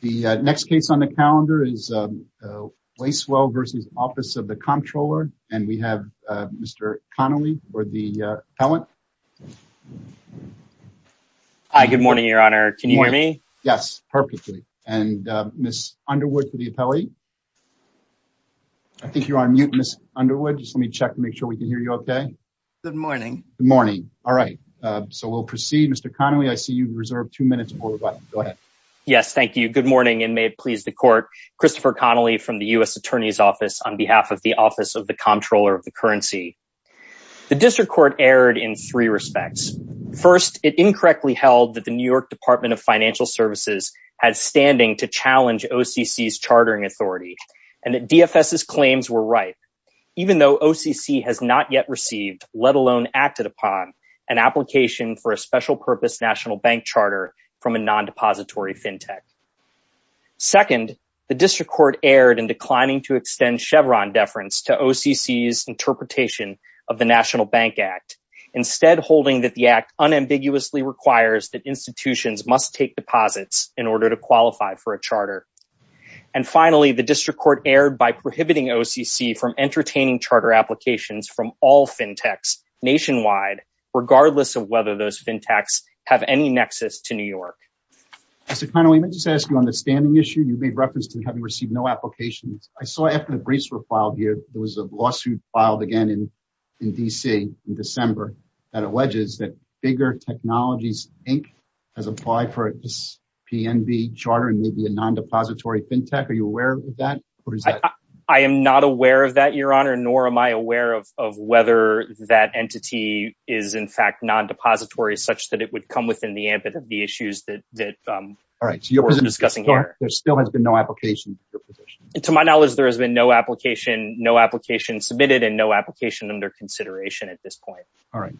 The next case on the calendar is Lacewell v. Office of the Comptroller and we have Mr. Connolly for the appellant. Hi, good morning, Your Honor. Can you hear me? Yes, perfectly. And Ms. Underwood for the appellate. I think you're on mute, Ms. Underwood. Just let me check to make sure we can hear you okay. Good morning. Good morning. All right, so we'll proceed. Mr. Connolly, I see you've got it. Go ahead. Yes, thank you. Good morning and may it please the Court. Christopher Connolly from the U.S. Attorney's Office on behalf of the Office of the Comptroller of the Currency. The District Court erred in three respects. First, it incorrectly held that the New York Department of Financial Services had standing to challenge OCC's chartering authority and that DFS's claims were right. Even though OCC has not yet received, let alone acted upon, an application for a special purpose national bank charter from a non-depository fintech. Second, the District Court erred in declining to extend Chevron deference to OCC's interpretation of the National Bank Act, instead holding that the act unambiguously requires that institutions must take deposits in order to qualify for a charter. And finally, the District Court erred by prohibiting OCC from entertaining charter applications from all fintechs nationwide, regardless of whether those fintechs have any nexus to New York. Mr. Connolly, may I just ask you on the standing issue, you made reference to having received no application. I saw after the briefs were filed here, there was a lawsuit filed again in D.C. in December that alleges that Bigger Technologies Inc. has applied for a PNB charter and made it a non-depository fintech. Are you aware of that? I am not aware of that, Your Honor, nor am I aware of whether that entity is, in fact, non-depository such that it would come within the ambit of the issues that we're discussing here. There still has been no application? To my knowledge, there has been no application, no application submitted, and no application under consideration at this point. All right.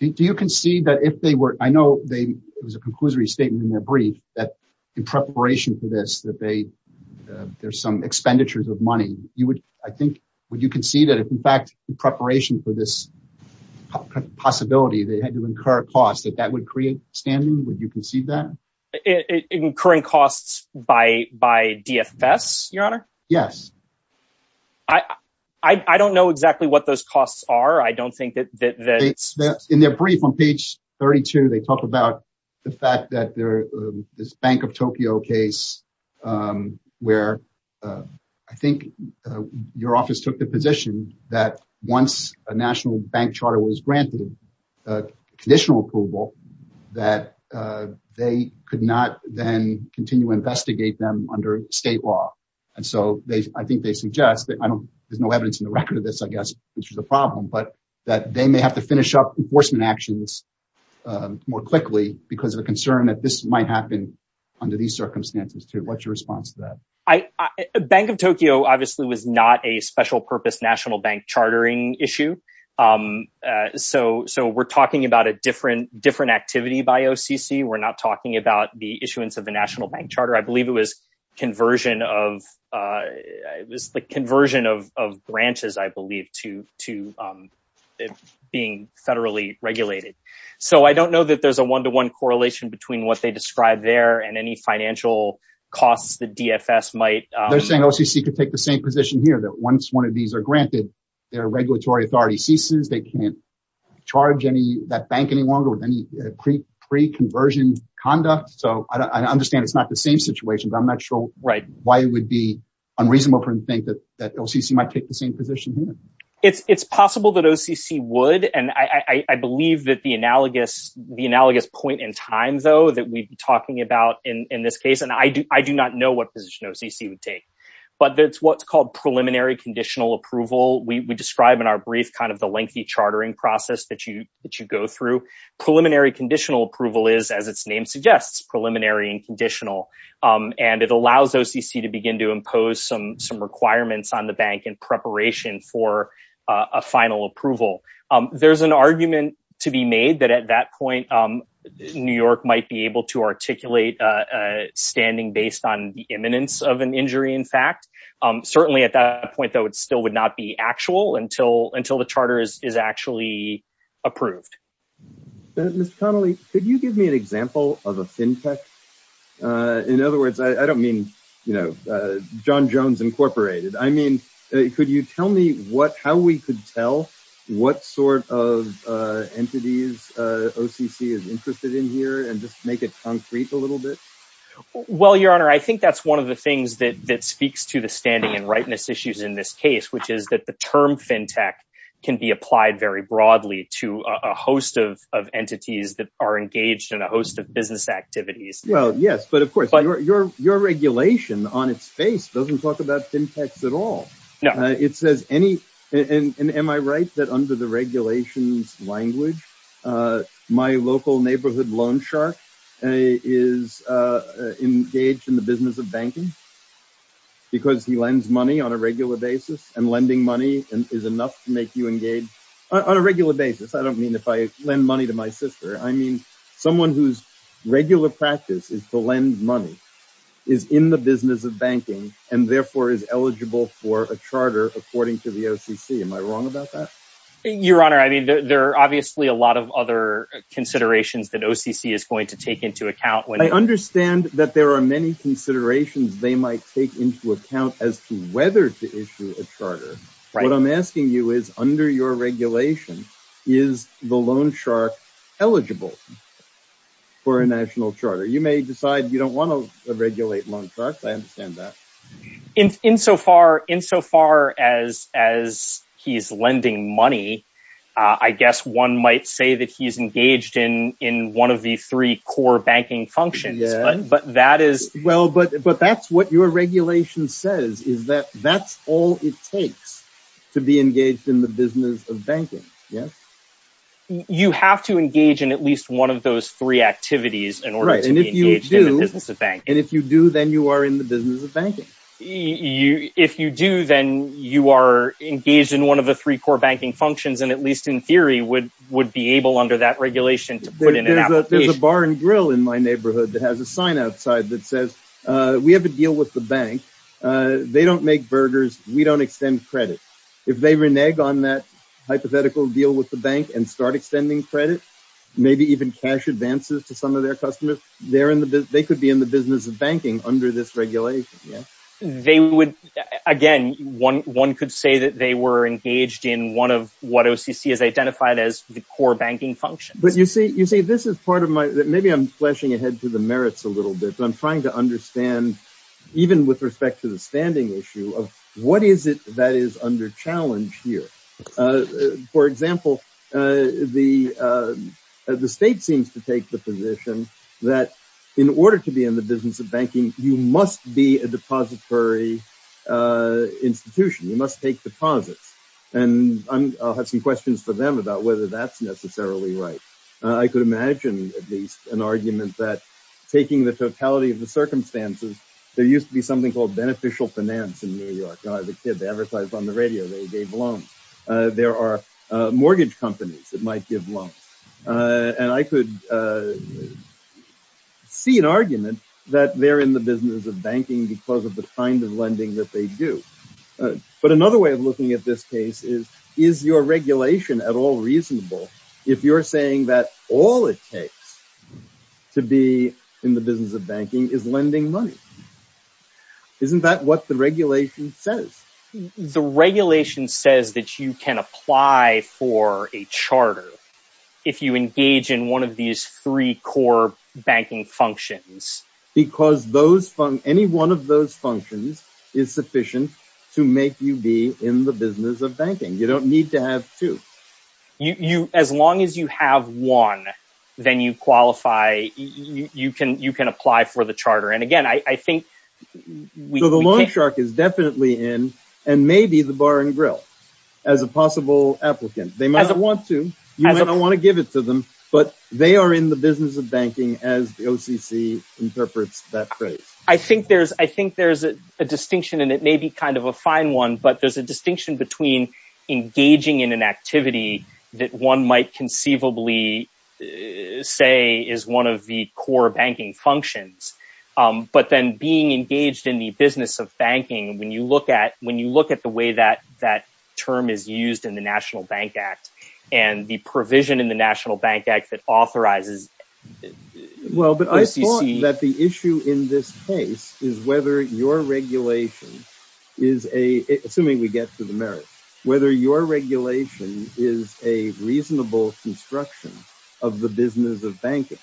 Do you concede that if they were, I know there was a conclusory statement in their brief that in preparation for this, that they, there's some expenditures of money, you would, I think, would you concede that if, in fact, in preparation for this possibility, they had to incur a cost, that that would create standing? Would you concede that? Incurring costs by DFS, Your Honor? Yes. I don't know exactly what those costs are. I don't think that... In their brief on page 32, they talk about the fact that this Bank of Tokyo case, where I think your office took the position that once a national bank charter was granted conditional approval, that they could not then continue to investigate them under state law. And so they, I think they suggest that, I don't, there's no evidence in the record of this, I guess, this was a problem, but that they may have to finish up enforcement actions more quickly because of the concern that this might happen under these circumstances, too. What's your response to that? Bank of Tokyo, obviously, was not a special purpose national bank chartering issue. So we're talking about a different activity by OCC. We're not talking about the issuance of the national bank charter. I believe it was conversion of, the conversion of branches, I believe, to being federally regulated. So I don't know that there's a one-to-one correlation between what they described there and any financial costs the DFS might... They're saying OCC could take the same position here, that once one of these are granted, their regulatory authority ceases. They can't charge that bank any longer with any pre-conversion conduct. So I understand it's not the same situation, but I'm not sure why it would be that OCC might take the same position here. It's possible that OCC would, and I believe that the analogous point in time, though, that we've been talking about in this case, and I do not know what position OCC would take, but it's what's called preliminary conditional approval. We describe in our brief kind of the lengthy chartering process that you go through. Preliminary conditional approval is, as its name suggests, preliminary and conditional, and it allows OCC to begin to fund the bank in preparation for a final approval. There's an argument to be made that at that point, New York might be able to articulate standing based on the imminence of an injury, in fact. Certainly at that point, that still would not be actual until the charter is actually approved. Ms. Connolly, could you give me an example of a Fintech? In other words, I don't mean, you know, John Jones Incorporated. I mean, could you tell me how we could tell what sort of entities OCC is interested in here and just make it concrete a little bit? Well, Your Honor, I think that's one of the things that speaks to the standing and rightness issues in this case, which is that the term Fintech can be applied very broadly to a host of entities that are engaged in a host of activities. Well, yes, but of course, your regulation on its face doesn't talk about Fintech at all. It says any, and am I right that under the regulations language, my local neighborhood loan shark is engaged in the business of banking because he lends money on a regular basis and lending money is enough to make you engage on a regular basis. I don't mean if I lend money to my sister, I mean, someone whose regular practice is to lend money is in the business of banking and therefore is eligible for a charter according to the OCC. Am I wrong about that? Your Honor, I mean, there are obviously a lot of other considerations that OCC is going to take into account. I understand that there are many considerations they might take into account as to whether to issue a charter. What I'm asking you is under your regulation, is the loan shark eligible for a national charter? You may decide you don't want to regulate loan sharks. I understand that. Insofar as he's lending money, I guess one might say that he's engaged in one of the three core banking functions, but that is... that's all it takes to be engaged in the business of banking. Yes? You have to engage in at least one of those three activities in order to be engaged in the business of banking. And if you do, then you are in the business of banking. If you do, then you are engaged in one of the three core banking functions and at least in theory would be able under that regulation to put in an application. There's a bar and grill in my neighborhood that has a sign outside that says we have a deal with the bank. They don't make burgers. We don't extend credit. If they renege on that hypothetical deal with the bank and start extending credit, maybe even cash advances to some of their customers, they could be in the business of banking under this regulation. Again, one could say that they were engaged in one of what OCC has identified as the core banking function. But you see, this is part of my... maybe I'm trying to understand even with respect to the standing issue of what is it that is under challenge here. For example, the state seems to take the position that in order to be in the business of banking, you must be a depository institution. You must take deposits. And I'll have some questions for them about whether that's necessarily right. I could imagine at least an example of this. I could see an argument that they're in the business of banking because of the kind of lending that they do. But another way of looking at this case is, is your regulation at all reasonable if you're saying that all it takes to be in the business of banking is lending money? Isn't that what the regulation says? The regulation says that you can apply for a charter if you engage in one of these three core banking functions. Because any one of those functions is sufficient to make you be in the business of banking. You don't need to have two. As long as you have one, then you qualify. You can apply for the charter. And again, I think... So the loan shark is definitely in and maybe the bar and grill as a possible applicant. They might want to. You might not want to give it to them, but they are in the business of banking as the OCC interprets that phrase. I think there's a distinction and it may be kind of a fine one, but there's a distinction between engaging in an activity that one might conceivably say is one of the core banking functions. But then being engaged in the business of banking, when you look at the way that term is used in the National Bank Act and the provision in the National Bank Act that authorizes... Well, but I thought that the issue in this case is whether your regulation is a... Assuming we get to the merit, whether your regulation is a reasonable construction of the business of banking.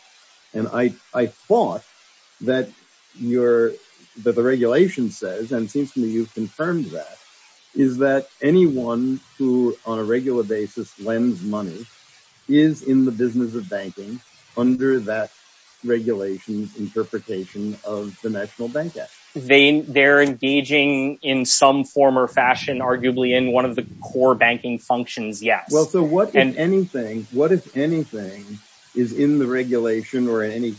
And I thought that the regulation says, and it seems to me you've confirmed that, is that anyone who on a regular basis lends money is in the business of banking under that regulation's interpretation of the National Bank Act. They're engaging in some form or fashion, arguably in one of the core banking functions. Yeah. Well, so what, if anything, is in the regulation or any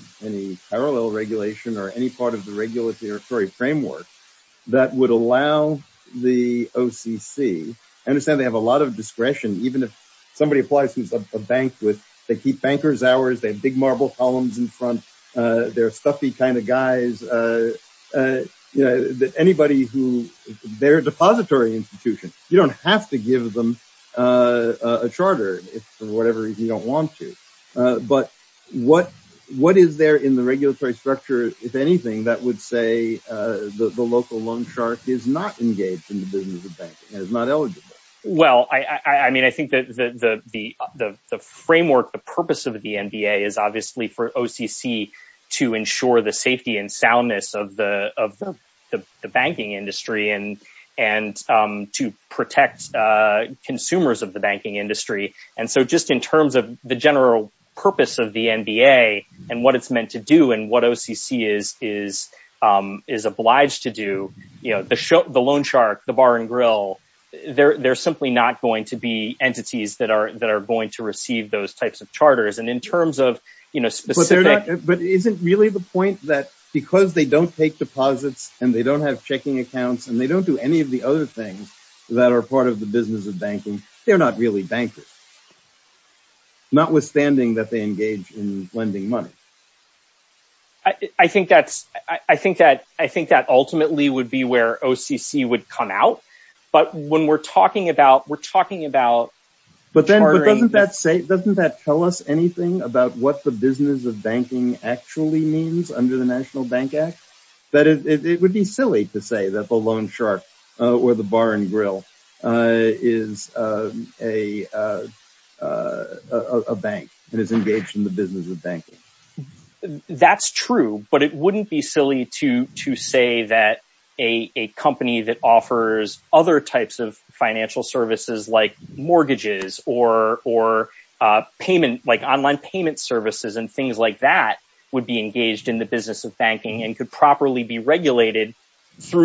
parallel regulation or any part of the regulatory framework that would allow the OCC... I understand they have a lot of discretion. Even if somebody applies to a bank, they keep bankers' hours, they have big marble columns in front, they're stuffy kind of guys. Anybody who... They're a depository institution. You don't have to give them a charter if for whatever reason you don't want to. But what is there in the regulatory structure, if anything, that would say the local loan shark is not engaged in the business of banking and is not eligible? Well, I mean, I think the framework, the purpose of the NBA is obviously for OCC to ensure the safety and soundness of the banking industry and to protect consumers of the banking industry. And so just in terms of the general purpose of the NBA and what it's meant to do and what OCC is obliged to do, the loan shark, the bar and grill, they're simply not going to be entities that are going to receive those types of charters. And in terms of... But isn't really the point that because they don't take deposits and they don't have checking accounts and they don't do any of the other things that are the business of banking, they're not really bankers. Notwithstanding that they engage in lending money. I think that ultimately would be where OCC would come out. But when we're talking about... We're talking about... But then doesn't that tell us anything about what the business of banking actually means under the National Bank Act? That it would be silly to say that the loan shark or the bar and grill is a bank and it's engaged in the business of banking. That's true, but it wouldn't be silly to say that a company that offers other types of financial services like mortgages or payment, like online payment services and things like that would be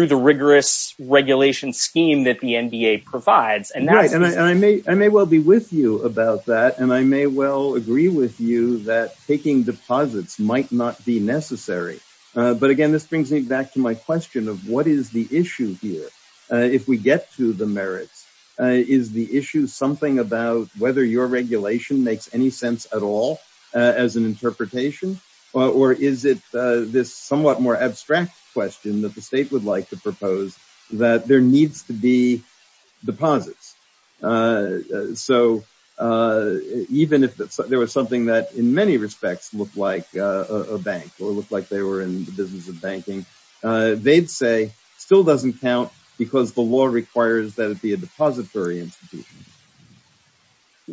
the rigorous regulation scheme that the NBA provides. Right. And I may well be with you about that. And I may well agree with you that taking deposits might not be necessary. But again, this brings me back to my question of what is the issue here? If we get to the merit, is the issue something about whether your regulation makes any sense at all as an that there needs to be deposits. So even if there was something that in many respects looked like a bank or looked like they were in the business of banking, they'd say still doesn't count because the law requires that it be a depository institution.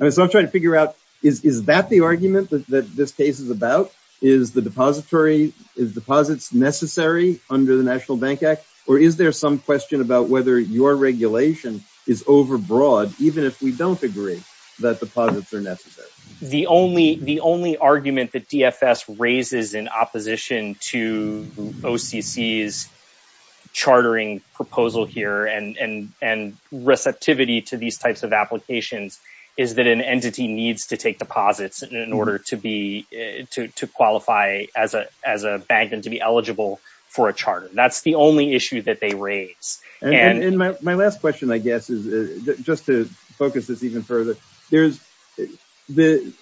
And so I'm trying to figure out, is that the argument that this case is about? Is the depository is deposits necessary under the National Bank Act? Or is there some question about whether your regulation is overbroad, even if we don't agree that deposits are necessary? The only argument that DFS raises in opposition to OCC's chartering proposal here and receptivity to these types of applications is that an entity needs to take deposits in order to be to qualify as a bank and to be eligible for a charter. That's the only issue that they raise. And my last question, I guess, is just to focus this even further. There's the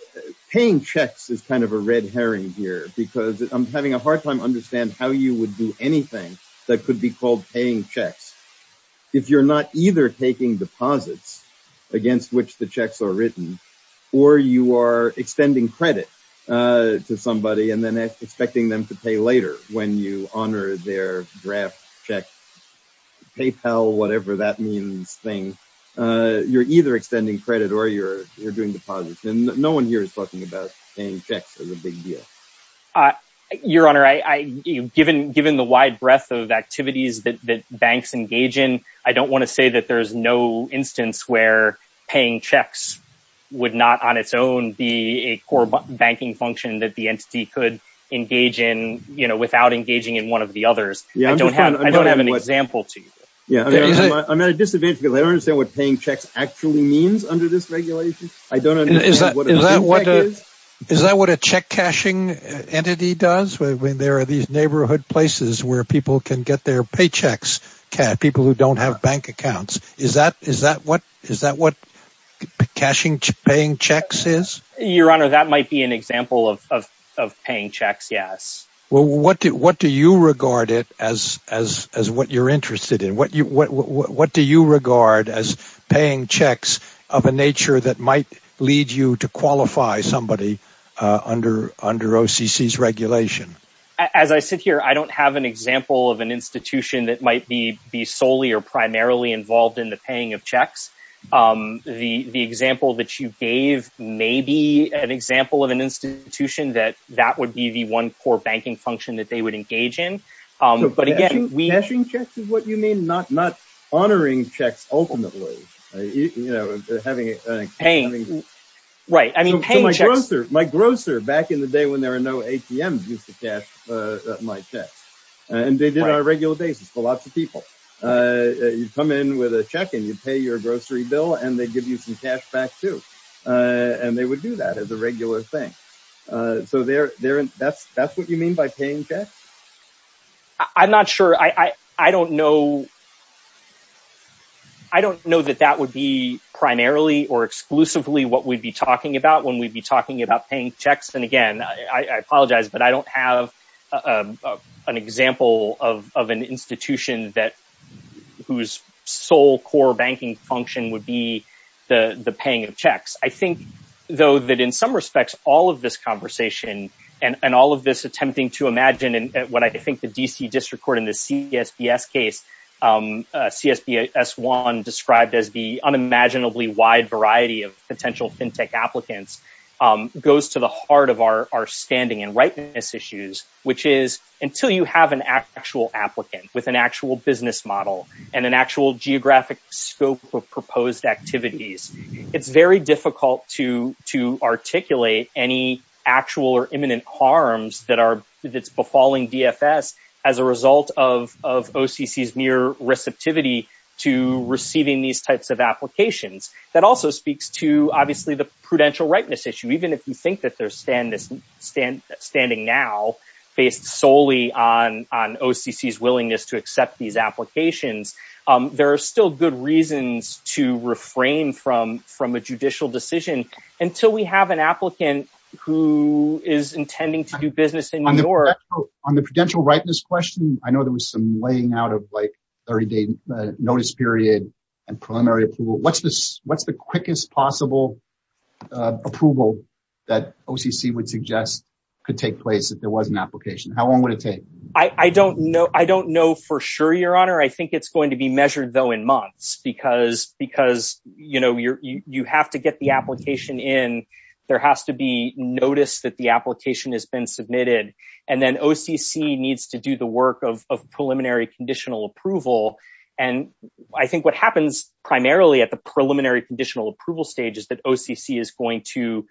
paying checks is kind of a red herring here because I'm having a hard time understand how you would do anything that could be called paying checks. If you're not either taking deposits against which the to somebody and then expecting them to pay later when you honor their draft checks, PayPal, whatever that means thing, you're either extending credit or you're doing deposits. And no one here is talking about paying checks as a big deal. Your Honor, given the wide breadth of activities that banks engage in, I don't want to say that there's no instance where paying checks would not on its own be a core banking function that the entity could engage in, you know, without engaging in one of the others. I don't have an example to you. I'm at a disadvantage because I don't understand what paying checks actually means under this regulation. I don't understand what a check cashing entity does when there are these neighborhood places where people can get their paychecks, people who don't have bank accounts. Is that what cashing paying checks is? Your Honor, that might be an example of paying checks. Yes. Well, what do you regard it as what you're interested in? What do you regard as paying checks of a nature that might lead you to qualify somebody under OCC's regulation? As I sit here, I don't have an example of an institution that might be solely or primarily involved in the paying of checks. The example that you gave may be an example of an institution that that would be the one core banking function that they would engage in. But again, we... Cashing checks is what you mean, not honoring checks ultimately. You know, having... Paying. Right. I mean, paying checks... My grocer back in the day when there were no ATMs used to cash my checks. And they did on a regular basis for lots of people. You'd come in with a check and you'd pay your grocery bill and they'd give you some cash back too. And they would do that as a regular thing. So that's what you mean. I don't know that that would be primarily or exclusively what we'd be talking about when we'd be talking about paying checks. And again, I apologize, but I don't have an example of an institution whose sole core banking function would be the paying of checks. I think though that in some respects, all of this conversation and all of this attempting to imagine and what I think the DC District Court in the CSDS case, CSDS-1 described as the unimaginably wide variety of potential FinTech applicants goes to the heart of our standing and rightness issues, which is until you have an actual applicant with an actual business model and an actual geographic scope of proposed activities, it's very difficult to articulate any actual or imminent harms that befalling DFS as a result of OCC's near receptivity to receiving these types of applications. That also speaks to obviously the prudential rightness issue. Even if you think that they're standing now based solely on OCC's willingness to accept these applications, there are still good reasons to refrain from a judicial decision until we have an applicant who is intending to do business in New York. On the prudential rightness question, I know there was some laying out of like 30-day notice period and preliminary approval. What's the quickest possible approval that OCC would suggest could take place if there was an application? How long would it take? I don't know. I don't know for sure, Your Honor. I think it's going to be measured though in months because you have to get the application in. There has to be noticed that the and then OCC needs to do the work of preliminary conditional approval. I think what happens primarily at the preliminary conditional approval stage is that OCC is going to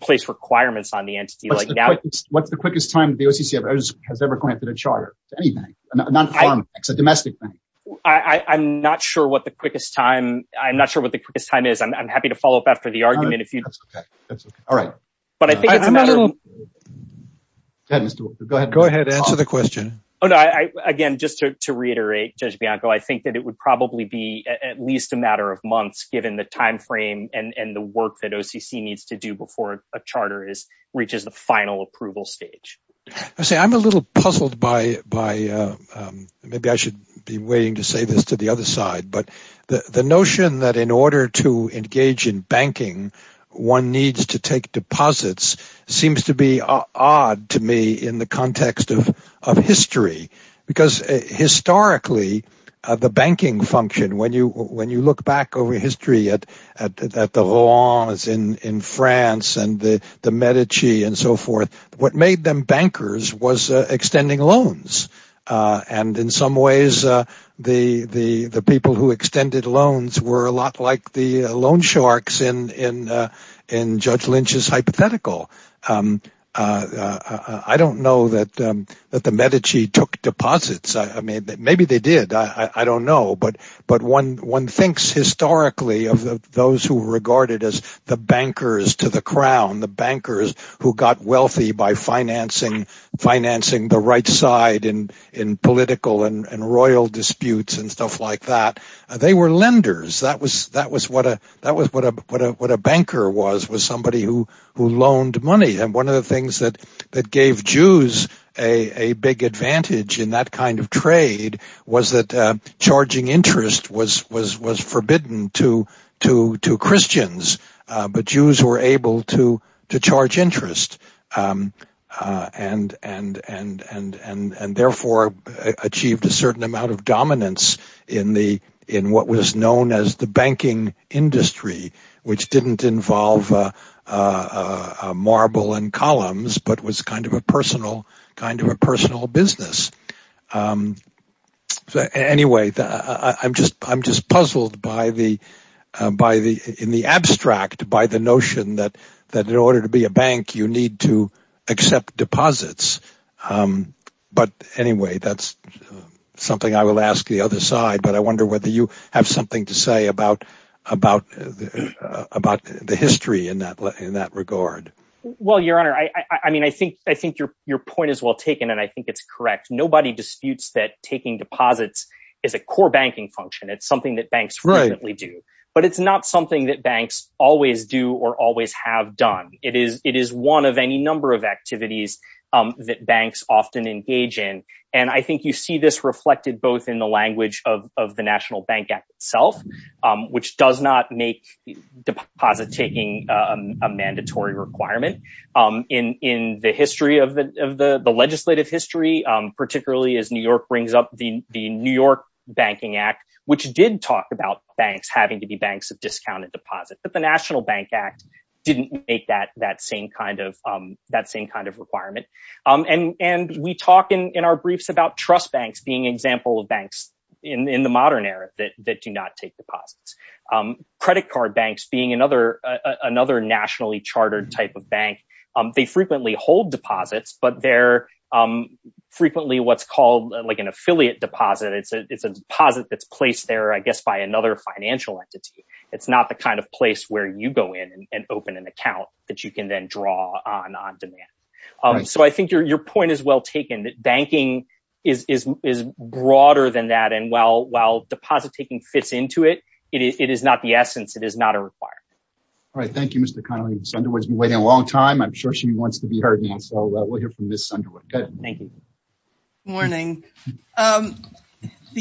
place requirements on the entity. What's the quickest time the OCC has ever granted a charter? Anything. A domestic thing. I'm not sure what the quickest time. I'm not sure what the quickest time is. I'm happy to follow up after the argument. That's okay. All right. Go ahead. Answer the question. Again, just to reiterate, Judge Bianco, I think that it would probably be at least a matter of months given the time frame and the work that OCC needs to do before a charter reaches the final approval stage. I'm a little puzzled by, maybe I should be waiting to say this to the one needs to take deposits, seems to be odd to me in the context of history because historically, the banking function, when you look back over history at the laws in France and the Medici and so forth, what made them bankers was extending loans. In some ways, the people who extended loans were a lot like the loan sharks in Judge Lynch's hypothetical. I don't know that the Medici took deposits. Maybe they did. I don't know, but one thinks historically of those who were regarded as the bankers to the crown, the bankers who got wealthy by financing the right side in political and royal disputes and stuff like that. They were lenders. That was what a banker was, was somebody who loaned money. One of the things that gave Jews a big advantage in that kind of trade was that charging interest was forbidden to Christians, but Jews were able to charge interest and therefore achieved a certain amount of dominance in what was known as the banking industry which didn't involve marble and columns but was kind of a personal business. I'm just puzzled in the abstract by the notion that in order to be a bank, you need to accept deposits, but anyway, that's something I will ask the other side, but I wonder whether you have something to say about the history in that regard. Well, Your Honor, I think your point is well taken and I think it's correct. Nobody disputes that taking deposits is a core banking function. It's something that banks frequently do, but it's not something that banks always do or always have done. It is one of any number of activities that banks often engage in, and I think you see this reflected both in the language of the in the history of the legislative history, particularly as New York brings up the New York Banking Act, which did talk about banks having to be banks of discounted deposits, but the National Bank Act didn't make that same kind of requirement, and we talk in our briefs about trust banks being an example of banks in the modern era that do not take deposits. Credit card banks being another nationally chartered type of bank, they frequently hold deposits, but they're frequently what's called like an affiliate deposit. It's a deposit that's placed there, I guess, by another financial entity. It's not the kind of place where you go in and open an account that you can then draw on on demand. So I think your point is well taken that banking is broader than that, and while deposit taking fits into it, it is not the essence. It is not a requirement. All right. Thank you, Mr. Connelly. Ms. Sunderwood's been waiting a long time. I'm sure she wants to be heard now, so we'll hear from Ms. Sunderwood. Go ahead. Thank you. Good morning. The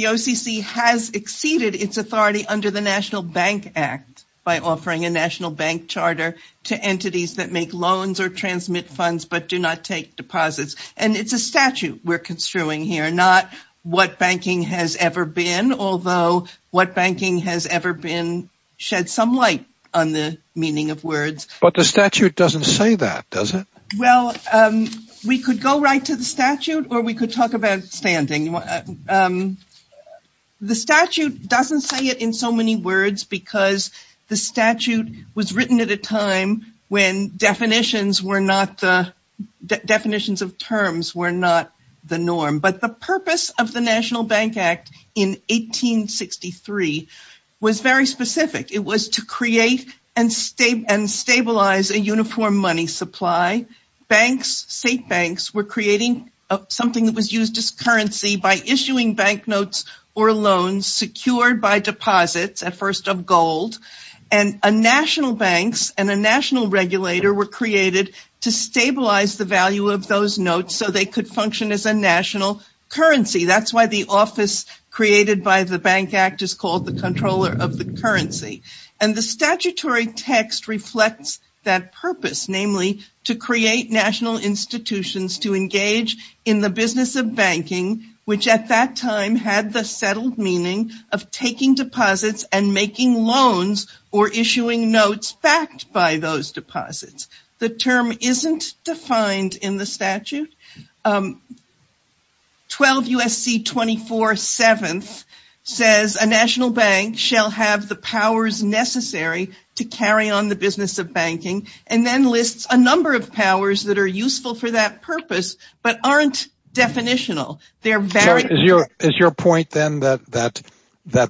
OCC has exceeded its authority under the National Bank Act by offering a national bank charter to entities that make loans or transmit funds but do not take deposits, and it's a statute we're construing here, not what banking has ever been, although what banking has ever been sheds some light on the meaning of words. But the statute doesn't say that, does it? Well, we could go right to the statute, or we could talk about standing. The statute doesn't say it in so many words because the statute was written at a time when definitions of terms were not the norm. But the purpose of the National Bank Act in 1863 was very specific. It was to create and stabilize a uniform money supply. St. Banks were creating something that was used as currency by issuing banknotes or loans secured by deposits, at first of gold, and a national bank and a national regulator were created to stabilize the value of those notes so they could function as a national currency. That's why the office created by the Bank Act is called the Controller of the Currency. And the statutory text reflects that purpose, namely to create national institutions to engage in the business of banking, which at that time had the settled meaning of taking deposits and making loans or issuing notes backed by those deposits. The term isn't defined in the statute. 12 U.S.C. 24 7th says a national bank shall have the powers necessary to carry on the business of banking and then lists a number of powers that are useful for that purpose but aren't definitional. They're very... Is your point then that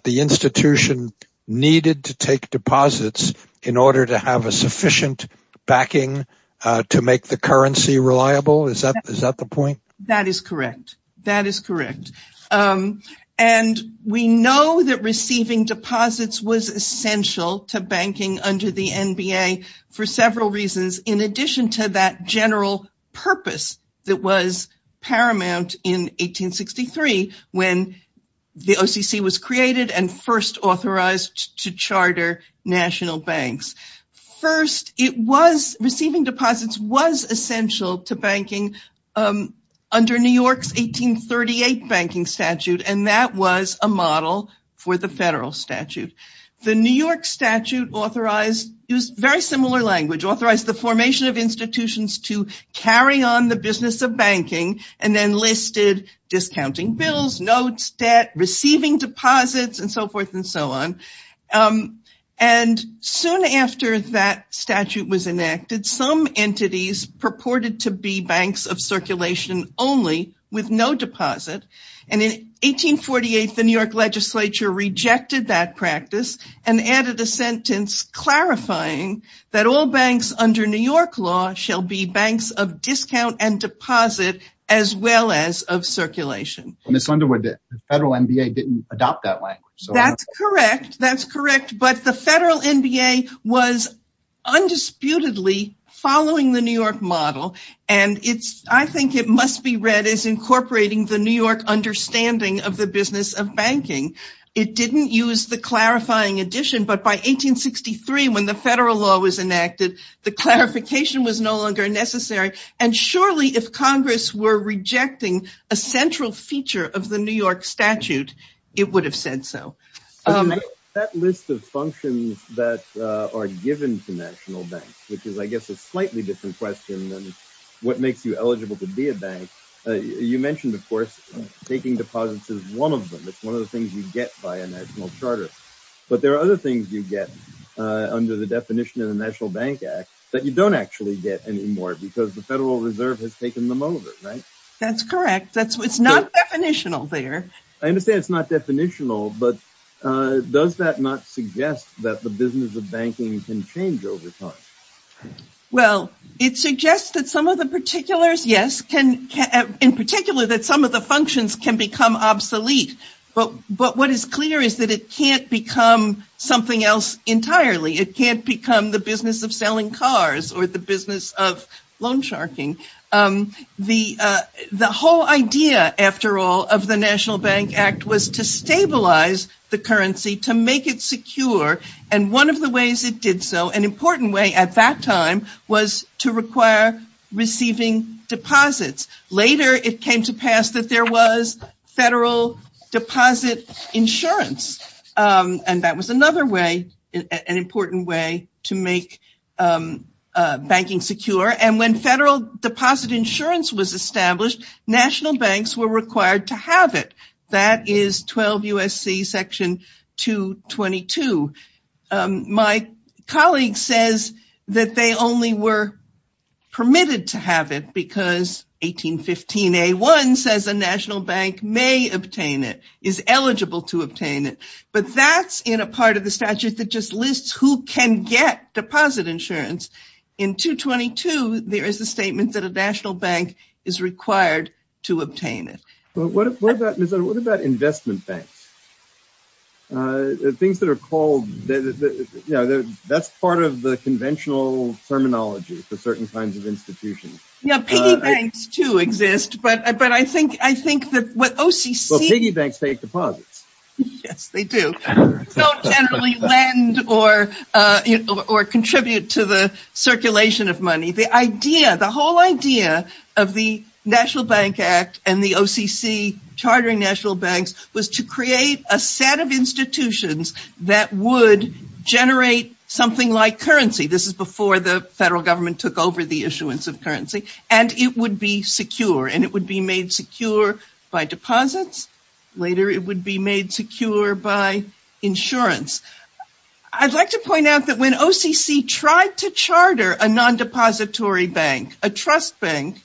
the institution needed to take deposits in order to have a sufficient backing to make the currency reliable? Is that the point? That is correct. That is correct. And we know that receiving deposits was essential to banking under the NBA for several reasons in addition to that general purpose that was paramount in 1863 when the OCC was created and first authorized to charter national banks. First, it was... Receiving deposits was essential to banking under New York's 1838 banking statute, and that was a model for the federal statute. The New York statute authorized... It was very similar language. Authorized the formation of institutions to carry on the business of banking and then listed discounting bills, notes, debt, receiving deposits, and so forth and so on. And soon after that statute was enacted, some entities purported to be banks of circulation only with no deposit. And in 1848, the New York legislature rejected that practice and added a sentence clarifying that all banks under New York law shall be banks of discount and deposit as well as of circulation. Ms. Underwood, the federal NBA didn't adopt that language. That's correct. That's correct. But the federal NBA was read as incorporating the New York understanding of the business of banking. It didn't use the clarifying addition, but by 1863 when the federal law was enacted, the clarification was no longer necessary. And surely if Congress were rejecting a central feature of the New York statute, it would have said so. That list of functions that are given to national banks, which is, I guess, a slightly different question than what makes you eligible to be a bank. You mentioned, of course, taking deposits is one of them. It's one of the things you get by a national charter. But there are other things you get under the definition of the National Bank Act that you don't actually get anymore because the Federal Reserve has taken them over, right? That's correct. It's not definitional there. I understand it's not definitional, but does that not suggest that the business of banking can change over time? Well, it suggests that some of the particulars, yes, in particular that some of the functions can become obsolete. But what is clear is that it can't become something else entirely. It can't become the business of selling cars or the business of loan sharking. The whole idea, after all, of the National Bank Act was to stabilize the currency, to make it secure. And one of the ways it did so, an important way at that time, was to require receiving deposits. Later, it came to pass that there was federal deposit insurance. And that was another way, an important way to make banking secure. And when federal deposit insurance was established, national banks were required to have it. That is 12 U.S.C. Section 222. My colleague says that they only were permitted to have it because 1815A1 says a national bank may obtain it, is eligible to obtain it. But that's in a part of the statute that just lists who can get deposit insurance. In 222, there is a statement that a national bank is required to obtain it. Well, what about investment banks? Things that are called, that's part of the conventional terminology for certain kinds of institutions. Yeah, piggy banks too exist, but I think that what OCC... Well, piggy banks take deposits. Yes, they do. Don't necessarily lend or contribute to the circulation of money. The idea, the whole idea of the National Bank Act and the OCC chartering national banks was to create a set of institutions that would generate something like currency. This is before the federal government took over the issuance of currency. And it would be secure, and it would be made secure by deposits. Later, it would be made secure by insurance. I'd like to point out that when OCC tried to charter a non-depository bank, a trust bank,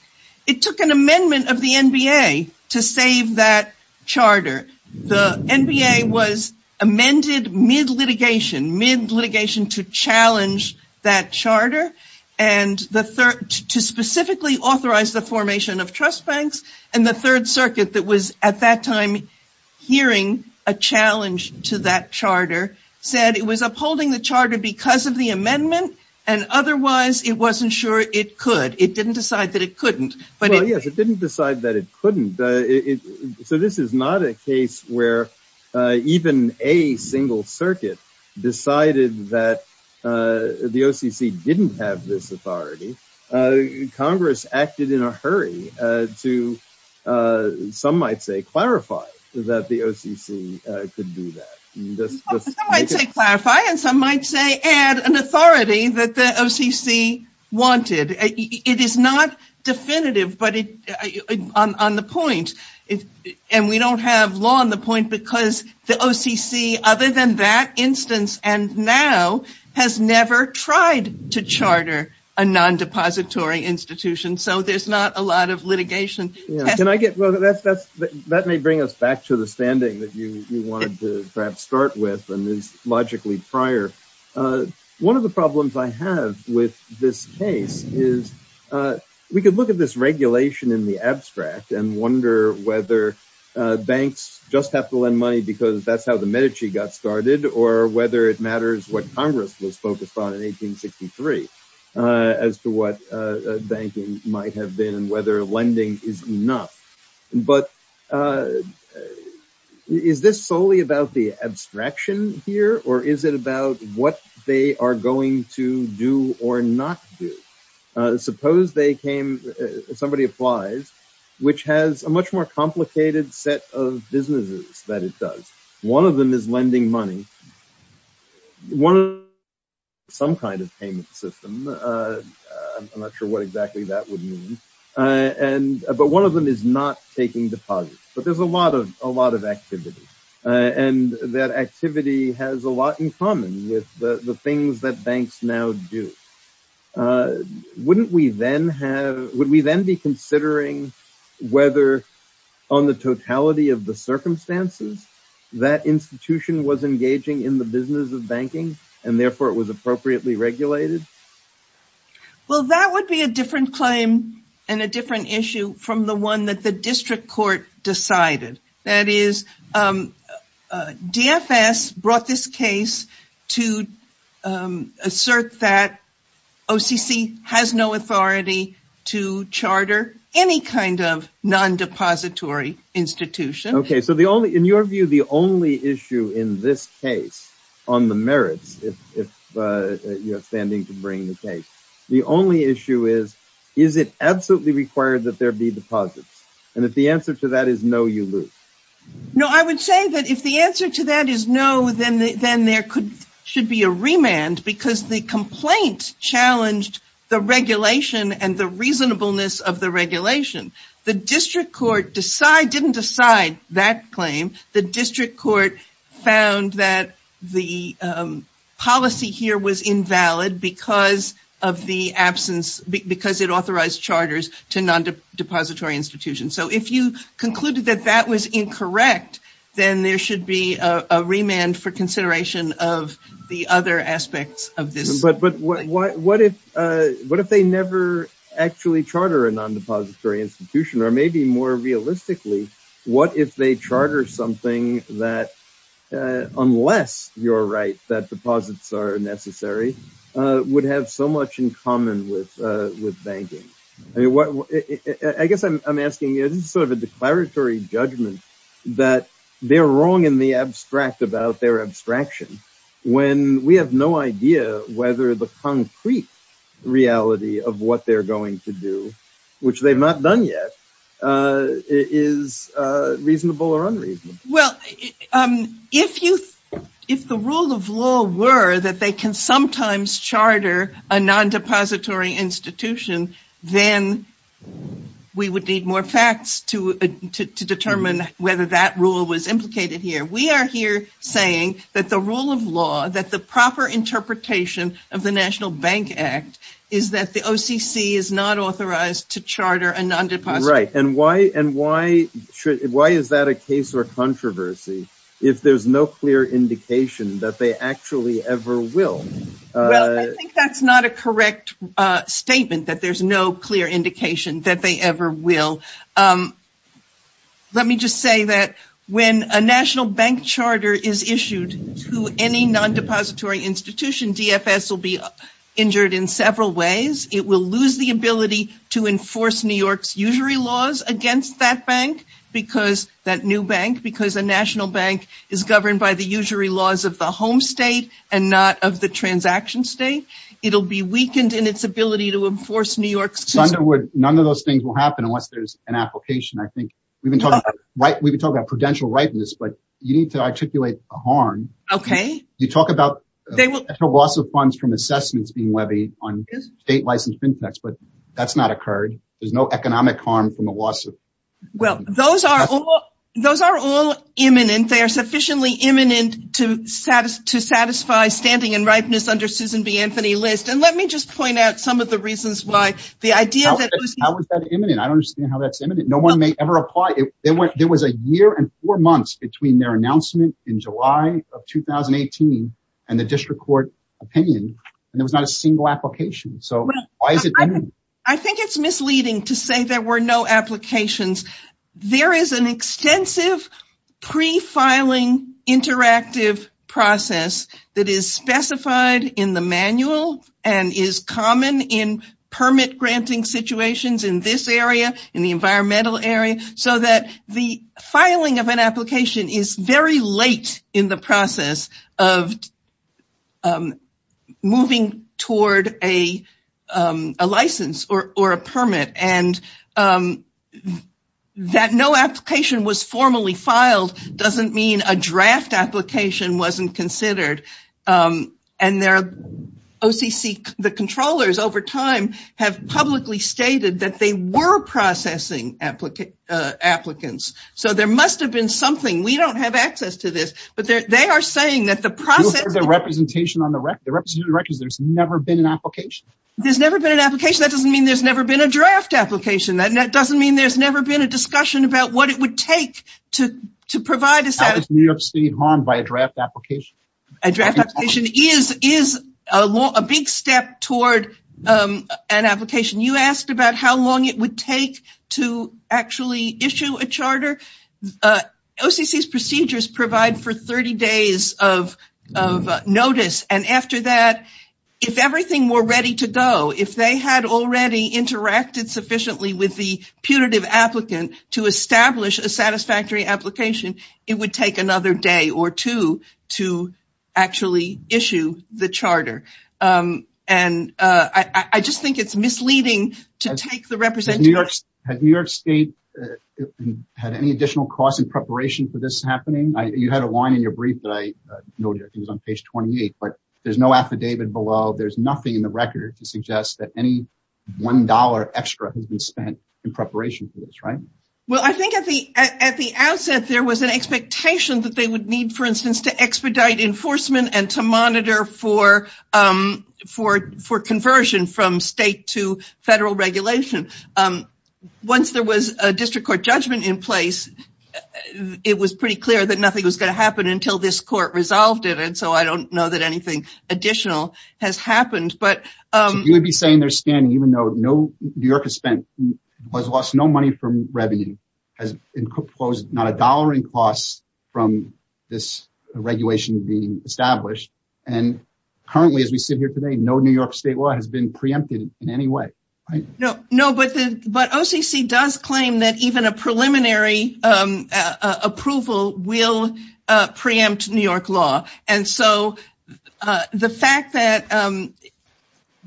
it took an amendment of the NBA to save that charter. The NBA was amended mid-litigation, mid-litigation to challenge that charter and to specifically authorize the formation of trust banks. And the third circuit that was at that time hearing a challenge to that charter said it was upholding the charter because of the amendment, and otherwise it wasn't sure it could. It didn't decide that it couldn't. Well, yes, it didn't decide that it couldn't. So this is not a case where even a single circuit decided that the OCC didn't have this authority. Congress acted in a hurry to, some might say, clarify that the OCC could do that. Some might say clarify, and some might say add an authority that the OCC wanted. It is not definitive, but it's on the point. And we don't have law on the point because the OCC, other than that instance and now, has never tried to charter a non-depository institution, so there's not a lot of litigation. That may bring us back to the standing that you wanted to perhaps start with and is logically prior. One of the problems I have with this case is we could look at this regulation in the abstract and wonder whether banks just have to lend money because that's how the Medici got started, or whether it matters what Congress was focused on in 1863 as to what banking might have been and whether lending is enough. But is this solely about the abstraction here, or is it about what they are going to do or not do? Suppose they came, somebody applies, which has a much more complicated set of businesses that it does. One of them is lending money, some kind of payment system. I'm not sure what exactly that would mean. But one of them is not taking deposits. But there's a lot of activity, and that activity has a lot in common with the things that banks now do. Would we then be considering whether, on the totality of the circumstances, that institution was engaging in the business of banking and therefore it was appropriately regulated? Well, that would be a different claim and a different issue from the one that the DFS brought this case to assert that OCC has no authority to charter any kind of non-depository institution. Okay. So in your view, the only issue in this case, on the merits, if you're standing to bring the case, the only issue is, is it absolutely required that there be deposits? And if the answer to that is no, you lose. No, I would say that if the answer to that is no, then there should be a remand because the complaint challenged the regulation and the reasonableness of the regulation. The district court didn't decide that claim. The district court found that the policy here was invalid because of the absence, because it authorized charters to non-depository institutions. So if you concluded that that was incorrect, then there should be a remand for consideration of the other aspects of this. But what if they never actually charter a non-depository institution, or maybe more realistically, what if they charter something that, unless you're right, that deposits are necessary, would have so much in common with banking? I guess I'm asking in sort of a declaratory judgment that they're wrong in the abstract about their abstraction, when we have no idea whether the concrete reality of what they're going to do, which they've not done yet, is reasonable or unreasonable. Well, if the rule of law were that they can sometimes charter a non-depository institution, then we would need more facts to determine whether that rule was implicated here. We are here saying that the rule of law, that the proper interpretation of the National Bank Act, is that the OCC is not authorized to charter a non-depository institution. Right, and why is that a case or controversy if there's no clear indication that they actually ever will? Well, I think that's not a correct statement, that there's no clear indication that they ever will. Let me just say that when a national bank charter is issued to any non-depository institution, DFS will be injured in several ways. It will lose the ability to enforce its own laws against that bank, that new bank, because a national bank is governed by the usury laws of the home state and not of the transaction state. It'll be weakened in its ability to enforce New York's... Thunderwood, none of those things will happen unless there's an application. I think we've been talking about prudential rightness, but you need to articulate a harm. Okay. You talk about loss of funds from assessments being levied on state harm. Well, those are all imminent. They are sufficiently imminent to satisfy standing in rightness under Susan B. Anthony List, and let me just point out some of the reasons why the idea... How is that imminent? I don't understand how that's imminent. No one may ever apply. There was a year and four months between their announcement in July of 2018 and the district court opinion, and there was not a single application, so why is it imminent? I think it's misleading to say there were no applications. There is an extensive pre-filing interactive process that is specified in the manual and is common in permit granting situations in this area, in the environmental area, so that the filing of an application is very late in the permit, and that no application was formally filed doesn't mean a draft application wasn't considered, and the controllers over time have publicly stated that they were processing applicants, so there must have been something. We don't have access to this, but they are saying that the process... The representation on the record, there's never been an application. There's never been an application. That doesn't mean there's never been a draft application, and that doesn't mean there's never been a discussion about what it would take to provide... How is New York City harmed by a draft application? A draft application is a big step toward an application. You asked about how long it would take to actually issue a charter. OCC's procedures provide for 30 days of notice, and after that, if everything were ready to go, if they had already interacted sufficiently with the punitive applicant to establish a satisfactory application, it would take another day or two to actually issue the charter, and I just think it's misleading to take the representation... Has New York State had any additional costs in preparation for this happening? You had a line in your brief that I noted on page 28, but there's no affidavit below. There's nothing in the record to suggest that any $1 extra has been spent in preparation for this, right? Well, I think at the outset, there was an expectation that they would need, for instance, to expedite enforcement and to monitor for conversion from state to federal regulation. Once there was a district court judgment in place, it was pretty clear that nothing was going to happen until this court resolved it, and so I don't know that anything additional has happened, but... So you would be saying they're spending, even though New York has spent, has lost no money from revenue, has enclosed not a dollar in costs from this regulation being established, and currently, as we sit here today, no New York State law has been preempted in any way. No, but OCC does claim that even a preliminary approval will preempt New York law, and so the fact that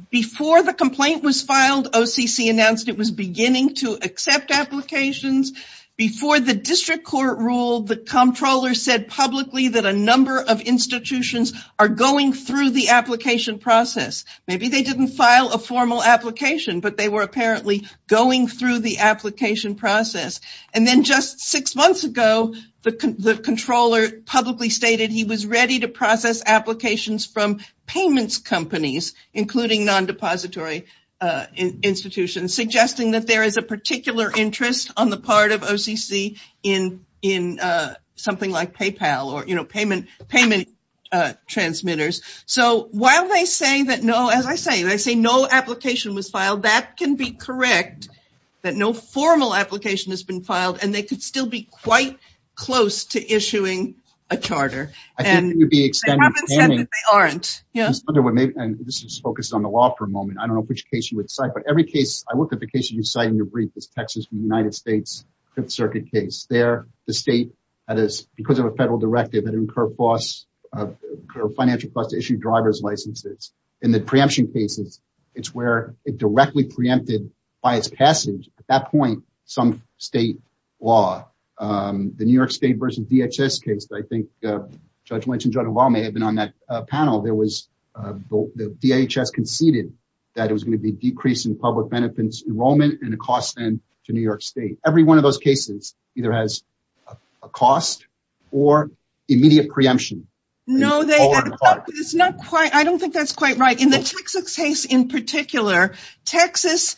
before the complaint was filed, OCC announced it was beginning to accept applications. Before the district court ruled, the comptroller said publicly that a number of But they were apparently going through the application process, and then just six months ago, the comptroller publicly stated he was ready to process applications from payments companies, including non-depository institutions, suggesting that there is a particular interest on the part of OCC in something like PayPal or, you know, payment transmitters. So why are they saying that? No, as I say, they say no application was filed. That can be correct, that no formal application has been filed, and they could still be quite close to issuing a charter, and... I think it would be... They haven't said they aren't. Yeah. I wonder what may... And this is focused on the law for a moment. I don't know which case you would cite, but every case... I looked at the case you cited in your brief, this Texas-United States Fifth Circuit case. There, the state, that is, because of a federal directive, it incurred a financial cost to issue driver's licenses. In the preemption cases, it's where it directly preempted by its passage, at that point, some state law. The New York State versus DHS case, I think Judge Lynch and Judge Obama have been on that panel. There was... The DHS conceded that it was going to be a decrease in public benefits enrollment and a cost then to New York immediate preemption. No, they... It's already filed. It's not quite... I don't think that's quite right. In the Sixth case in particular, Texas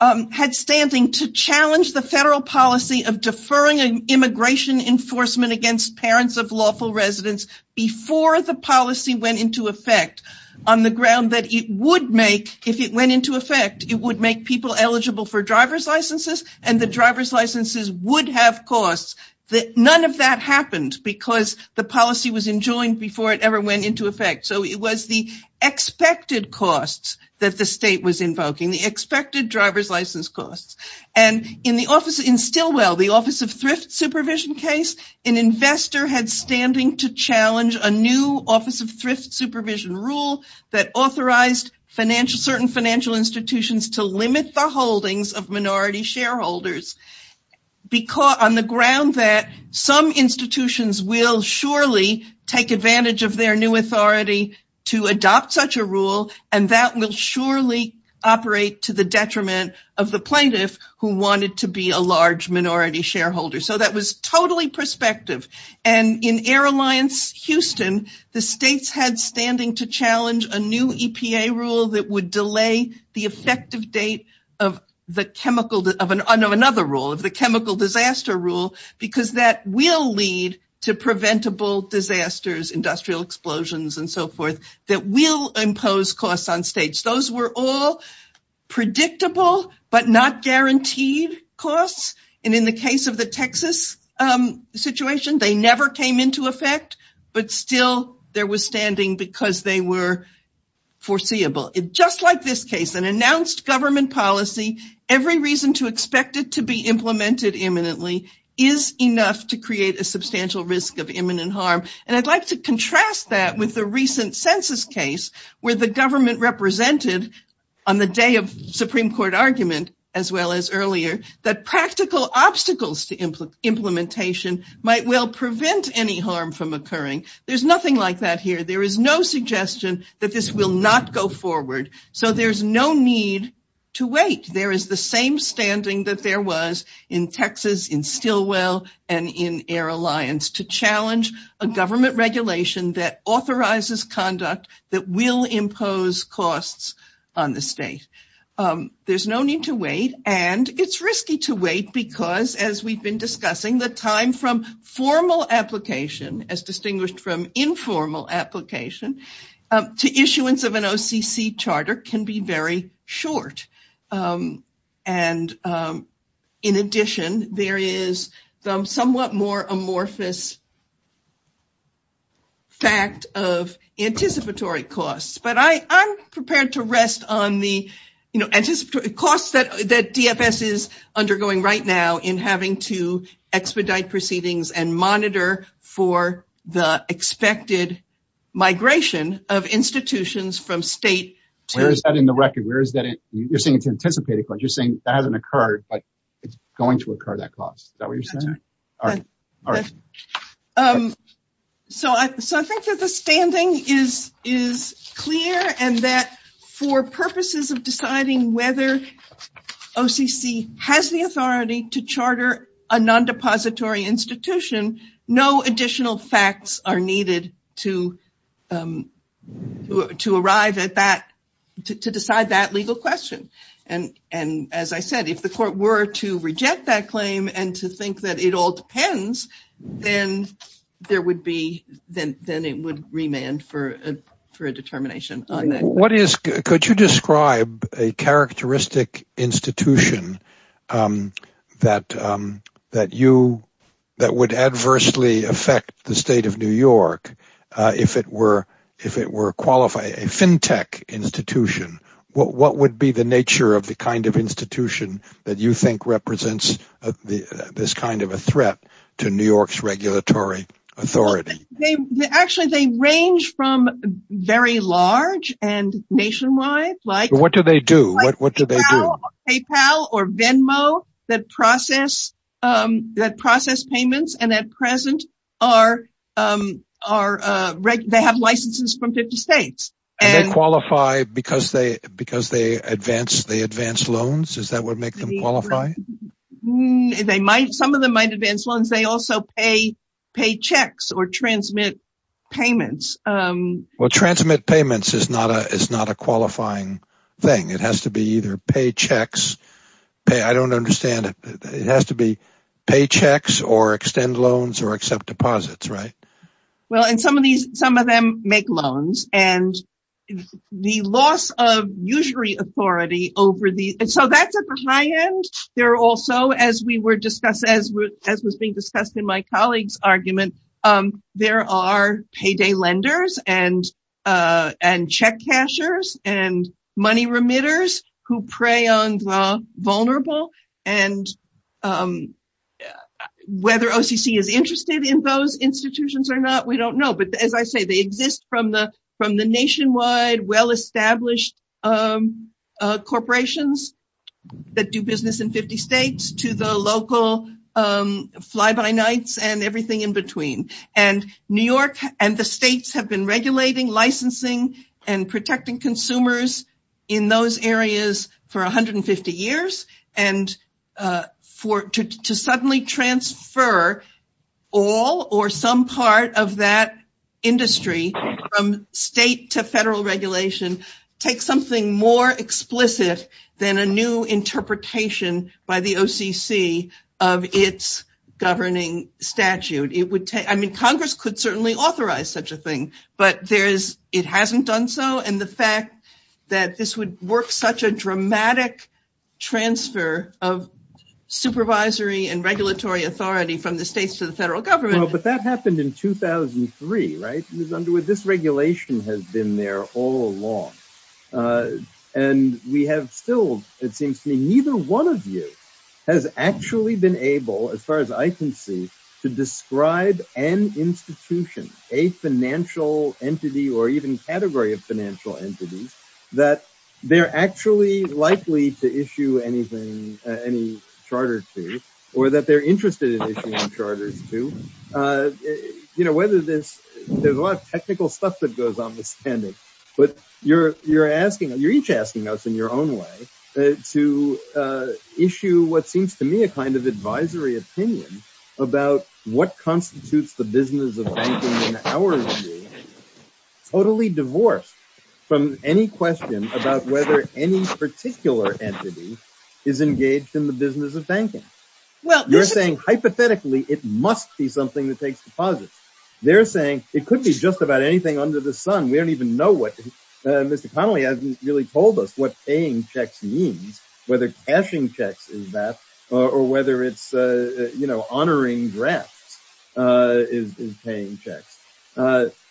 had standing to challenge the federal policy of deferring immigration enforcement against parents of lawful residents before the policy went into effect on the ground that it would make, if it went into effect, it would make people eligible for driver's licenses, and the driver's licenses would have costs that none of that happened because the policy was enjoined before it ever went into effect. So it was the expected costs that the state was invoking, the expected driver's license costs. And in the office... In Stilwell, the Office of Thrift Supervision case, an investor had standing to challenge a new Office of Thrift Supervision rule that authorized financial... certain financial institutions to limit the holdings of minority shareholders because... on the ground that some institutions will surely take advantage of their new authority to adopt such a rule, and that will surely operate to the detriment of the plaintiffs who wanted to be a large minority shareholder. So that was totally prospective. And in Air Alliance Houston, the states had standing to challenge a new EPA rule that would delay the effective date of the chemical... of another rule, the chemical disaster rule, because that will lead to preventable disasters, industrial explosions, and so forth, that will impose costs on states. Those were all predictable but not guaranteed costs. And in the case of the Texas situation, they never came into effect, but still, there was standing because they were foreseeable. Just like this case, an announced government policy, every reason to expect it to be implemented imminently is enough to create a substantial risk of imminent harm. And I'd like to contrast that with the recent census case, where the government represented, on the day of Supreme Court argument, as well as earlier, that practical obstacles to implementation might well prevent any harm from occurring. There's nothing like that here. There is no suggestion that this will not go forward. So there's no need to wait. There is the same standing that there was in Texas, in Stilwell, and in Air Alliance, to challenge a government regulation that authorizes conduct that will impose costs on the state. There's no need to wait, and it's risky to wait because, as we've been discussing, the time from formal application, as distinguished from informal application, to issuance of an OCC charter can be very short. And in addition, there is the somewhat more amorphous fact of anticipatory costs. But I'm prepared to rest on the costs that DFS is undergoing right now in having to expedite proceedings and monitor for the expected migration of institutions from state to... Where is that in the record? Where is that? You're saying it's anticipated, but you're saying that hasn't occurred, but it's going to occur, that cost. Is that what you're whether OCC has the authority to charter a non-depository institution, no additional facts are needed to decide that legal question. And as I said, if the court were to reject that claim and to think that it all depends, then it would remand for a determination. What is, could you describe a characteristic institution that would adversely affect the state of New York if it were a FinTech institution? What would be the nature of the kind of institution that you think represents this kind of a threat to New York's regulatory authority? Actually, they range from very large and nationwide like... What do they do? What do they do? PayPal or Venmo that process payments and at present, they have licenses from 50 states. And they qualify because they advance loans? Is that what makes them qualify? Mm, they might. Some of them might advance loans. They also pay checks or transmit payments. Well, transmit payments is not a qualifying thing. It has to be either paychecks. I don't understand it. It has to be paychecks or extend loans or accept deposits, right? Well, and some of them make loans and the loss of usury authority over the... And so that's high end. They're also, as we were discussing, as was being discussed in my colleague's argument, there are payday lenders and check cashers and money remitters who prey on the vulnerable. And whether OCC is interested in those institutions or not, we don't know. But as I say, they exist from the nationwide well-established corporations that do business in 50 states to the local fly-by-nights and everything in between. And New York and the states have been regulating, licensing and protecting consumers in those areas for 150 years. And to suddenly transfer all or some part of that industry from state to federal regulation, take something more explicit than a new interpretation by the OCC of its governing statute. I mean, Congress could certainly authorize such a thing, but it hasn't done so. And the fact that this would work such a dramatic transfer of supervisory and regulatory authority from the states to the federal government... But that happened in 2003, right? In other words, this regulation has been there all along. And we have still, it seems to me, neither one of you has actually been able, as far as I can see, to describe an institution, a financial entity, or even category of financial entities, that they're actually likely to issue any charters to, or that they're interested in issuing charters to. There's a lot of technical stuff that goes on with spending, but you're each asking us in your own way to issue what seems to me a kind of advisory opinion about what constitutes the business of banking in our view, totally divorced from any question about whether any particular entity is engaged in the business of banking. You're saying hypothetically, it must be something that takes deposits. They're saying it could be just about anything under the sun. We don't even know what... Mr. Connolly hasn't really told us what paying checks means, whether cashing checks is that, or whether it's honoring grants is paying checks.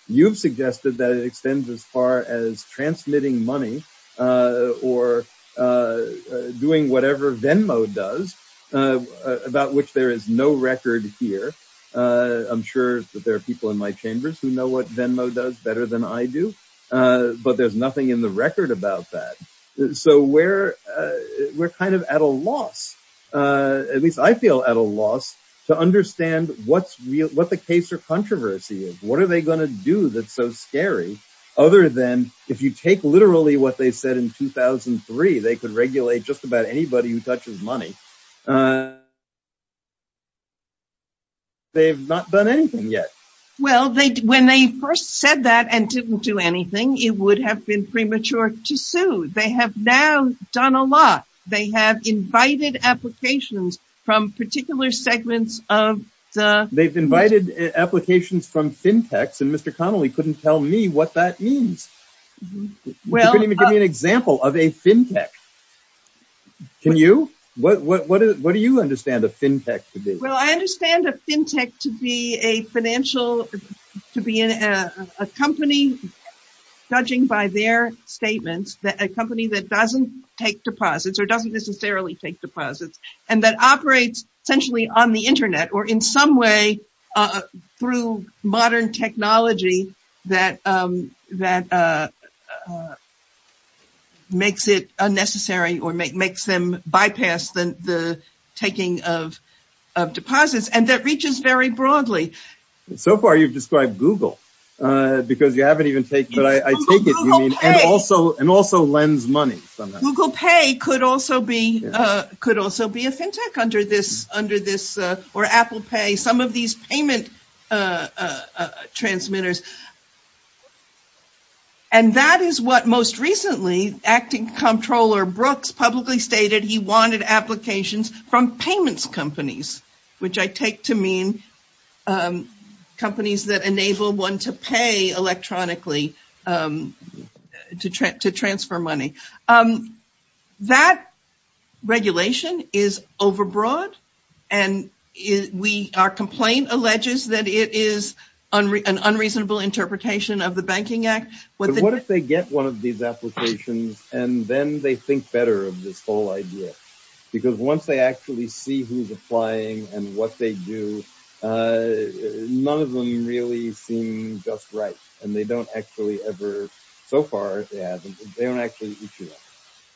You've suggested that it extends as far as transmitting money, or doing whatever Venmo does, about which there is no record here. I'm sure that there are people in my chambers who know what Venmo does better than I do, but there's nothing in the record about that. We're kind of at a loss, at least I feel at a loss, to understand what the case or controversy is. What are they going to do that's so scary? Other than if you take literally what they said in 2003, they could regulate just about anybody who touches money. They've not done anything yet. Well, when they first said that and didn't do anything, it would have been premature to sue. They have now done a lot. They have invited applications from particular segments of the... They've invited applications from fintechs, and Mr. Connolly couldn't tell me what that means. Well... He couldn't even give me an example of a fintech. Can you? What do you understand a fintech to be? I understand a fintech to be a financial... To be a company, judging by their statements, a company that doesn't take deposits or doesn't necessarily take deposits, and that operates essentially on the internet or in some way through modern technology that makes it unnecessary or makes them bypass the taking of deposits, and that reaches very broadly. So far, you've described Google, because you haven't even taken... Google Pay. And also lends money sometimes. Google Pay could also be a fintech under this, or Apple Pay. Some of these payment transmitters. And that is what most recently Acting Comptroller Brooks publicly stated he wanted applications from payments companies, which I take to mean companies that enable one to pay electronically to transfer money. That regulation is overbroad, and we... Our complaint alleges that it is an unreasonable interpretation of the Banking Act. But what if they get one of these applications, and then they think better of this whole idea? Because once they actually see who's applying and what they do, none of them really seem just right. And they don't actually ever... So far, they haven't. They don't actually issue them.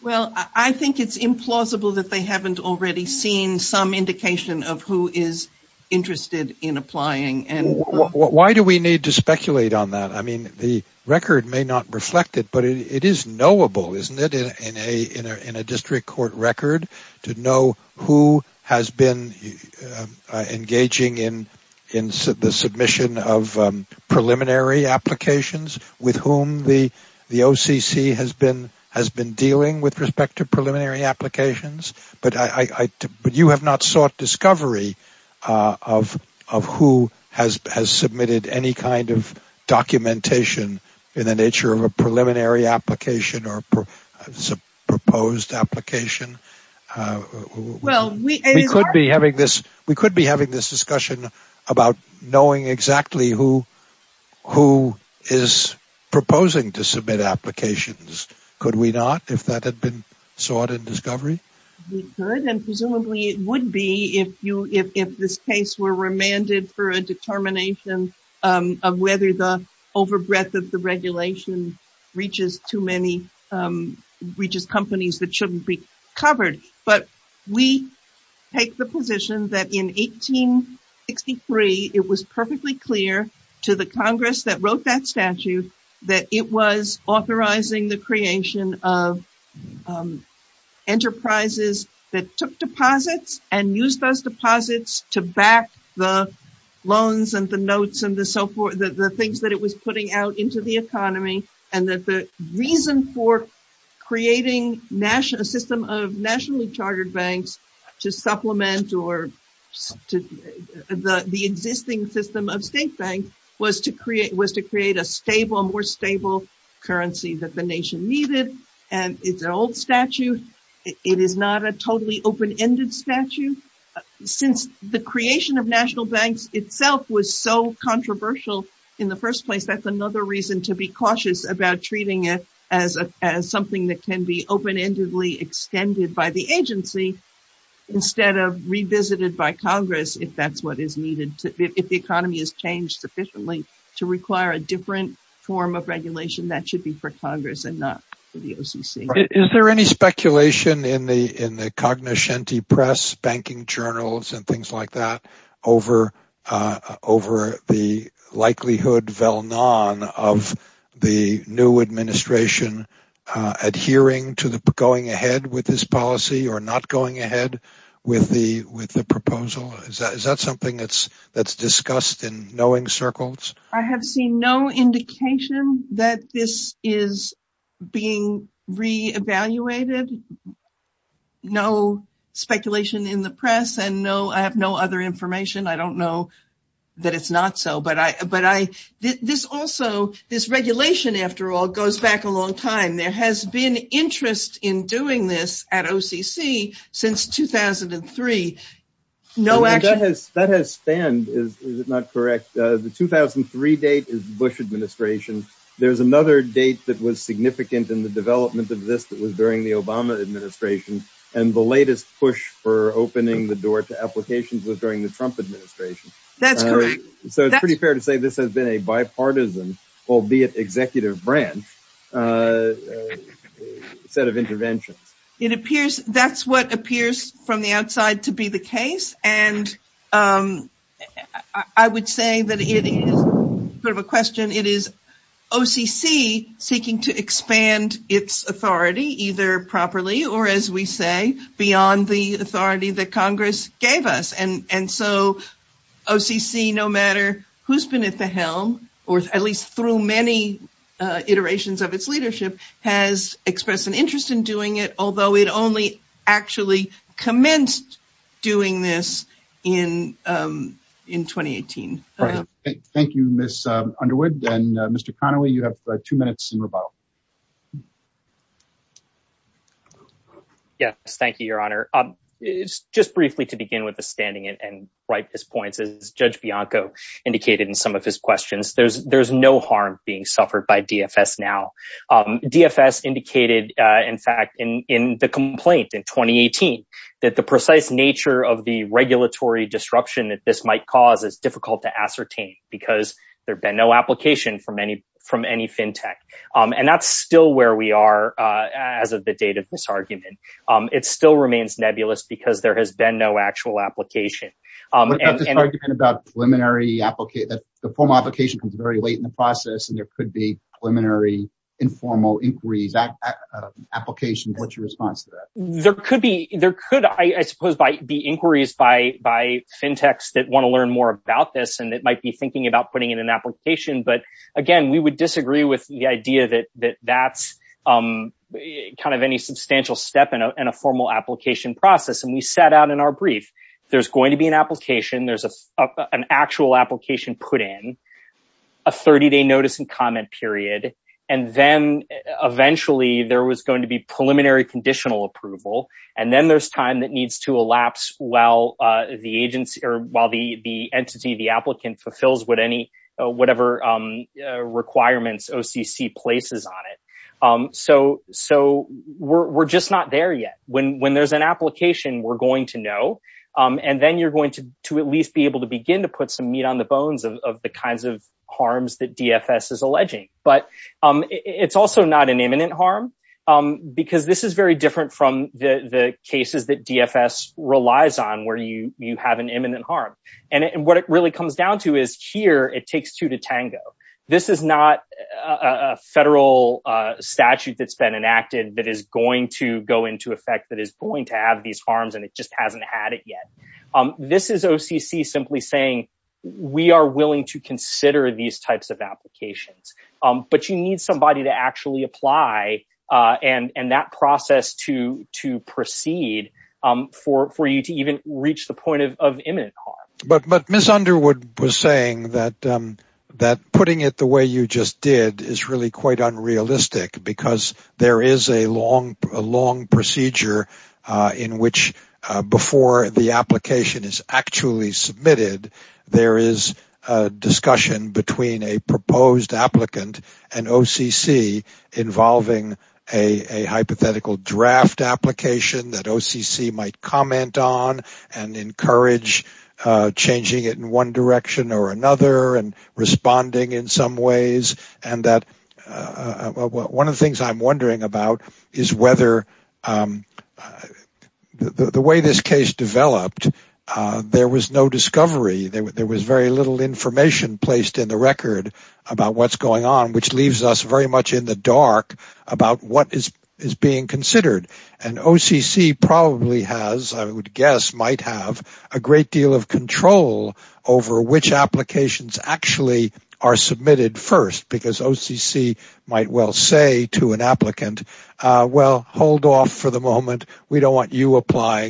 Well, I think it's implausible that they haven't already seen some indication of who is interested in applying. Why do we need to speculate on that? I mean, the record may not reflect it, but it is knowable, isn't it, in a district court record to know who has been engaging in the submission of preliminary applications with whom the OCC has been dealing with respect to preliminary applications. But you have not sought discovery of who has submitted any kind of documentation in the nature of a preliminary application or a proposed application. Well, we... We could be having this discussion about knowing exactly who is proposing to submit applications. Could we not, if that had been sought in discovery? We could, and presumably it would be if this case were remanded for a determination of whether the overbreadth of the regulation reaches too many... Reaches companies that shouldn't be covered. But we take the position that in 1863, it was perfectly clear to the Congress that wrote that statute that it was authorizing the creation of enterprises that took deposits and used those deposits to back the loans and the notes and the so forth, the things that it was putting out into the economy, and that the reason for creating a system of nationally chartered banks to supplement or the existing system of state banks was to create a stable, more stable currency that the nation needed. And it's an old statute. It is not a totally open-ended statute. Since the creation of national banks itself was so controversial in the first place, that's another reason to be cautious about treating it as something that can be open-endedly extended by the agency instead of revisited by Congress, if that's what is needed, if the economy has changed sufficiently to require a different form of regulation that should be for Congress and not the OCC. Is there any speculation in the Cognoscenti Press, banking journals and things like that over the likelihood of the new administration adhering to the going ahead with this policy or not going ahead with the proposal? Is that something that's discussed in knowing circles? I have seen no indication that this is being re-evaluated. No speculation in the press, and no, I have no other information. I don't know that it's not so, but this also, this regulation, after all, goes back a long time. There has been interest in doing this at OCC since 2003. That has spanned, is it not correct? The 2003 date is Bush administration. There's another date that was significant in the development of this that was during the Obama administration, and the latest push for opening the door to applications was during the Trump administration. That's correct. So it's pretty fair to say this has been a bipartisan, albeit executive branch, set of interventions. It appears, that's what appears from the outside to be the case, and I would say that it is sort of a question. It is OCC seeking to expand its authority either properly or, as we say, beyond the authority that Congress gave us. And so OCC, no matter who's been at the helm, or at least through many iterations of its leadership, has expressed an interest in doing it, although it only actually commenced doing this in 2018. Thank you, Ms. Underwood. And Mr. Connolly, you have two minutes in rebuttal. Yes, thank you, Your Honor. Just briefly to begin with the standing and right this point, as Judge Bianco indicated in some of his questions, there's no harm being suffered by DFS now. DFS indicated, in fact, in the complaint in 2018, that the precise nature of the regulatory disruption that this might cause is difficult to ascertain, because there's been no application from any fintech. And that's still where we are as of the date of this argument. It still remains nebulous, because there has been no actual application. This argument about preliminary, the formal application comes very late in the process, and there could be preliminary, informal inquiry. That application, what's your response to that? There could be, there could, I suppose, be inquiries by fintechs that want to learn more about this, and that might be thinking about putting in an application. But again, we would disagree with the idea that that's kind of any substantial step in a formal application process. And we sat down in our brief, there's going to be an application, there's an actual application put in, a 30-day notice and comment period, and then eventually there was going to be preliminary conditional approval. And then there's time that needs to elapse while the entity, the applicant fulfills whatever requirements OCC places on it. So, we're just not there yet. When there's an application, we're going to know, and then you're going to at least be able to begin to put some meat on the bones of the kinds of harms that DFS is alleging. But it's also not an imminent harm, because this is very different from the cases that DFS relies on, where you have an imminent harm. And what it really comes down to is, here, it takes two to tango. This is not a federal statute that's been enacted that is going to go into effect that is going to have these harms, and it just hasn't had it yet. This is OCC simply saying, we are willing to consider these types of and that process to proceed for you to even reach the point of imminent harm. But Ms. Underwood was saying that putting it the way you just did is really quite unrealistic, because there is a long procedure in which, before the application is actually submitted, there is a discussion between a proposed applicant and OCC involving a hypothetical draft application that OCC might comment on and encourage changing it in one direction or another and responding in some ways. One of the things I'm wondering about is whether the way this case developed, there was no discovery. There was very little information placed in the record about what's going on, which leaves us very much in the dark about what is being considered. And OCC probably has, I would guess, might have a great deal of control over which applications actually are submitted first, because OCC might well say to an applicant, well, hold off for the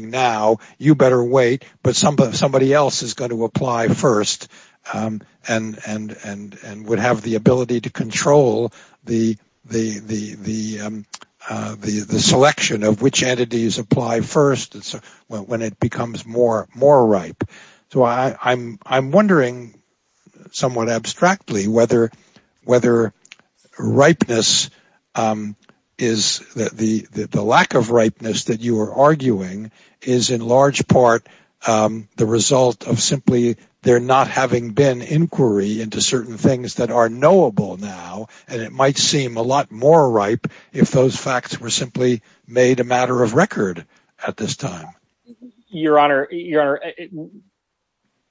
now. You better wait, but somebody else is going to apply first and would have the ability to control the selection of which entities apply first when it becomes more ripe. I'm wondering somewhat abstractly whether the lack of ripeness that you are arguing is in large part the result of simply there not having been inquiry into certain things that are knowable now, and it might seem a lot more ripe if those facts were simply made a matter of record at this time. Your Honor,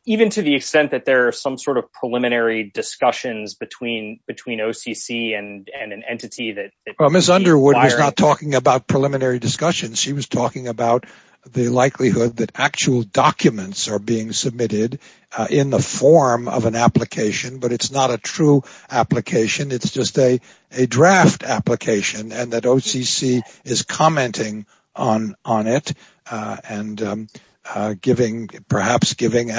even to the extent that there are some sort of preliminary discussions between OCC and an entity that... Well, Ms. Underwood was not talking about preliminary discussions. She was talking about the likelihood that actual documents are being submitted in the form of an application, but it's not a true application. It's just a draft application and that OCC is commenting on it and perhaps giving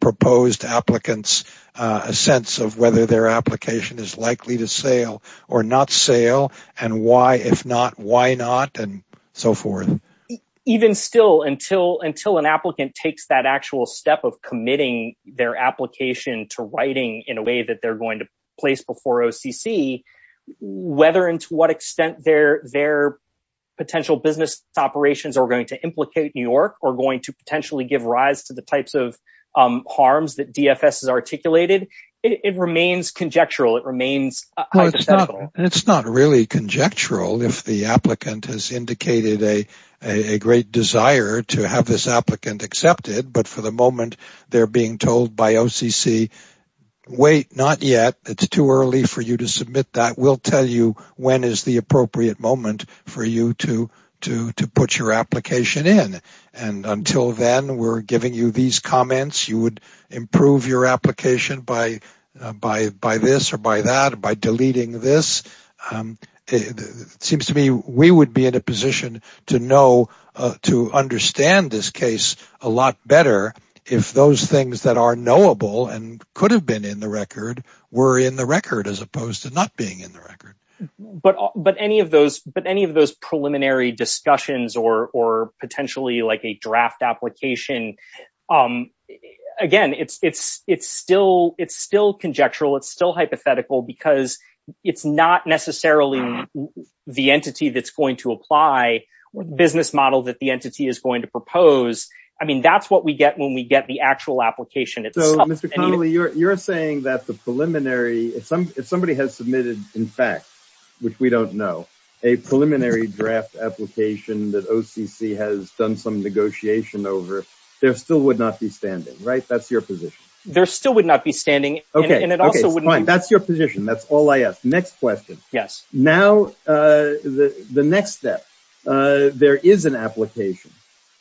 proposed applicants a sense of whether their application is likely to sale or not sale, and why, if not, why not, and so forth. Even still, until an applicant takes that actual step of committing their application to writing in a way that they're going to place before OCC, whether and to what extent their potential business operations are going to implicate New York or going to potentially give rise to the remains hypothetical. It's not really conjectural if the applicant has indicated a great desire to have this applicant accepted, but for the moment, they're being told by OCC, wait, not yet, it's too early for you to submit that. We'll tell you when is the appropriate moment for you to put your application in, and until then, we're giving you these comments. You would improve your application by this or by that, by deleting this. It seems to me we would be in a position to know, to understand this case a lot better if those things that are knowable and could have been in the record were in the record as opposed to not being in the record. But any of those preliminary discussions or potentially like a draft application, again, it's still conjectural. It's still hypothetical because it's not necessarily the entity that's going to apply what business model that the entity is going to propose. I mean, that's what we get when we get the actual application. So, Mr. Connolly, you're saying that the preliminary, if somebody has submitted, in fact, which we don't know, a preliminary draft application that OCC has done some negotiation over, there still would not be standing, right? That's your position. There still would not be standing. Okay, fine. That's your position. That's all I ask. Next question. Yes. Now, the next step, there is an application.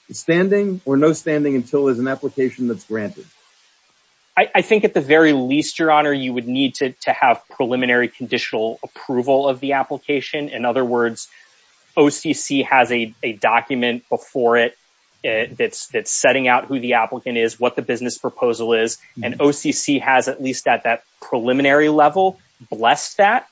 It's standing or no standing until there's an application that's granted. I think at the very least, your honor, you would need to have preliminary conditional approval of the application. In other words, OCC has a document before it that's setting out who the applicant is, what the business proposal is. And OCC has at least at that preliminary level blessed that.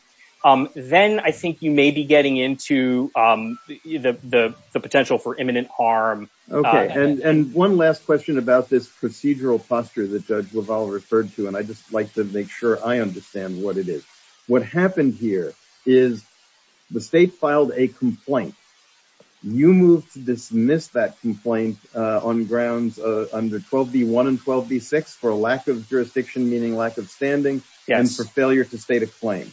Then I think you may be getting into the potential for imminent harm. Okay. And one last question about this procedural posture that was all referred to, and I just like to make sure I understand what it is. What happened here is the state filed a complaint. You moved to dismiss that complaint on grounds under 12B1 and 12B6 for lack of jurisdiction, meaning lack of standing, and for failure to state a claim.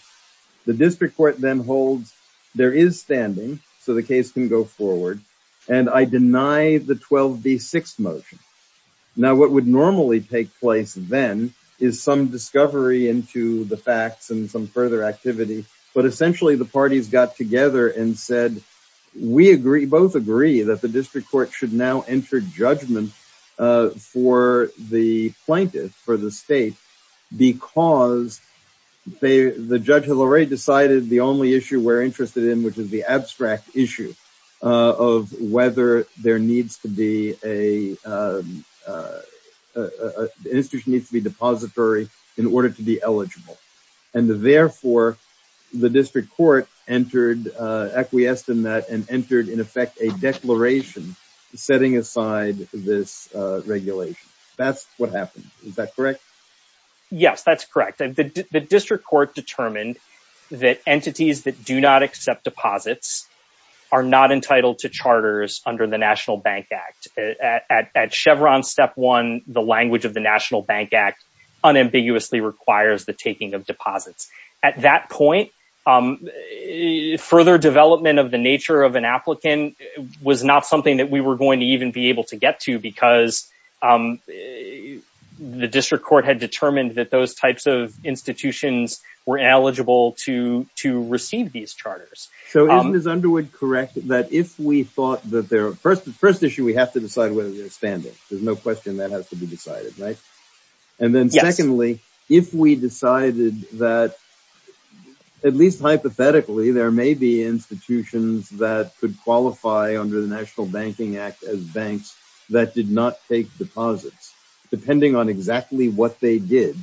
The district court then holds there is standing, so the case can go forward. And I deny the 12B6 motion. Now, what would normally take place then is some discovery into the facts and some further activity. But essentially, the parties got together and said, we both agree that the district court should now enter judgment for the plaintiff, for the state, because the judge has already decided the only issue we're interested in, which is the abstract issue of whether an institution needs to be depository in order to be eligible. And therefore, the district court entered, acquiesced in that and entered in effect a declaration setting aside this regulation. That's what happened. Is that correct? Yes, that's correct. The district court determined that entities that do not accept deposits are not entitled to charters under the National Bank Act. At Chevron step one, the language of the National Bank Act unambiguously requires the taking of deposits. At that point, further development of the nature of an applicant was not something that we were going to even be able to get to because the district court had determined that those types of institutions were eligible to receive these charters. So isn't this underwood correct that if we thought that they're... First issue, we have to decide whether they're standing. There's no question that has to be decided, right? And then secondly, if we decided that, at least hypothetically, there may be institutions that could qualify under the National Banking Act as banks that did not take deposits, depending on exactly what they did.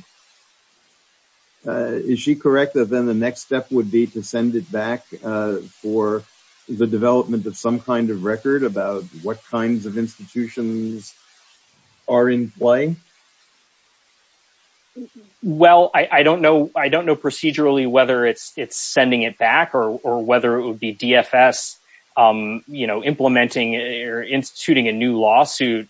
Is she correct that then the next step would be to send it back for the development of some kind of record about what kinds of institutions are in play? Well, I don't know procedurally whether it's sending it back or whether it would be DFS implementing or instituting a new lawsuit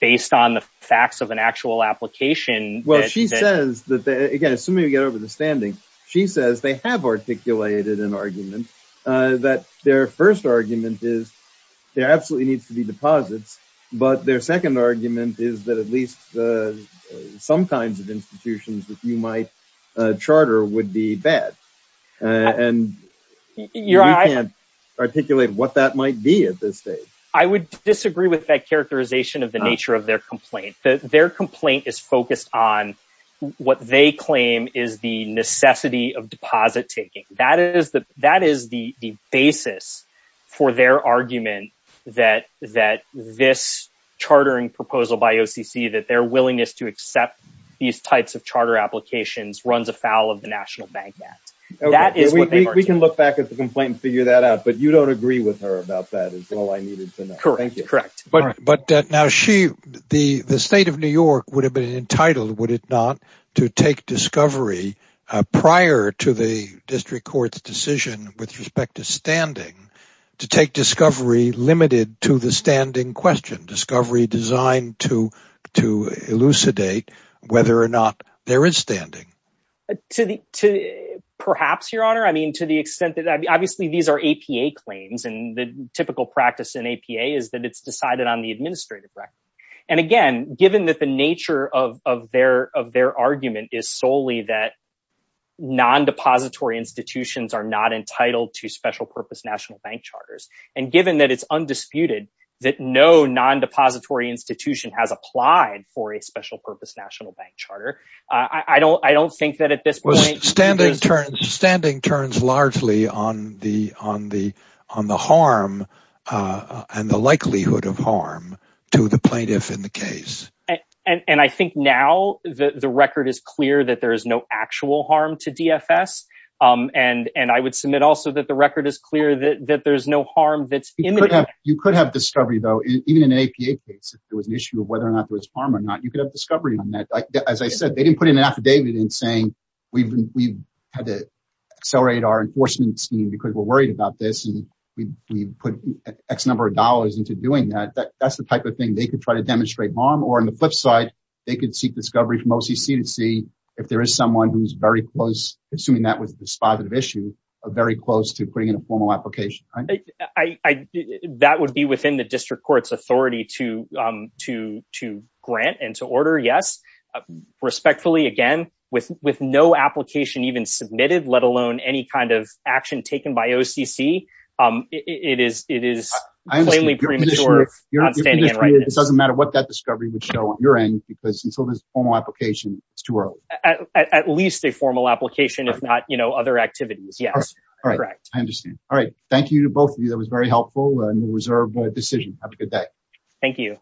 based on the facts of an actual application. Well, she says that, again, assuming we get over the standing, she says they have articulated an argument that their first argument is there absolutely needs to be deposits. But their second argument is that at least the... Some kinds of institutions that you might charter would be bad. And you can't articulate what that might be at this stage. I would disagree with that characterization of the nature of their complaint. Their complaint is focused on what they claim is the necessity of deposit taking. That is the basis for their argument that this chartering proposal by OCC that their willingness to accept these types of charter applications runs afoul of the National Bank Act. We can look back at the complaint and figure that out, but you don't agree with her about that as well. I needed to know. Correct. But now the state of New York would have been entitled, would it not, to take discovery prior to the district court's decision with respect to elucidate whether or not there is standing? Perhaps, Your Honor. I mean, to the extent that obviously these are APA claims and the typical practice in APA is that it's decided on the administrative record. And again, given that the nature of their argument is solely that non-depository institutions are not entitled to special purpose national bank charters, and given that it's undisputed that no non-depository institution has applied for a special purpose national bank charter, I don't think that at this point... Standing turns largely on the harm and the likelihood of harm to the plaintiff in the case. And I think now the record is clear that there is no actual harm to DFS. And I would submit also that the record is clear that there's no harm that's imminent. You could have discovery though, even in an APA case, if there was an issue of whether or not there was harm or not, you could have discovery on that. As I said, they didn't put an affidavit in saying we had to accelerate our enforcement team because we're worried about this and we put X number of dollars into doing that. That's the type of thing they could try to demonstrate harm or on the flip side, they could seek discovery from OCC and see if there is someone who's very close, assuming that was a very close to bringing a formal application. That would be within the district court's authority to grant and to order, yes. Respectfully, again, with no application even submitted, let alone any kind of action taken by OCC, it is plainly premature. It doesn't matter what that discovery would show on your end because until there's a formal application, it's too early. At least a formal application, if not other activities, yes. All right. I understand. All right. Thank you to both of you. That was very helpful and a reservable decision. Have a good day. Thank you.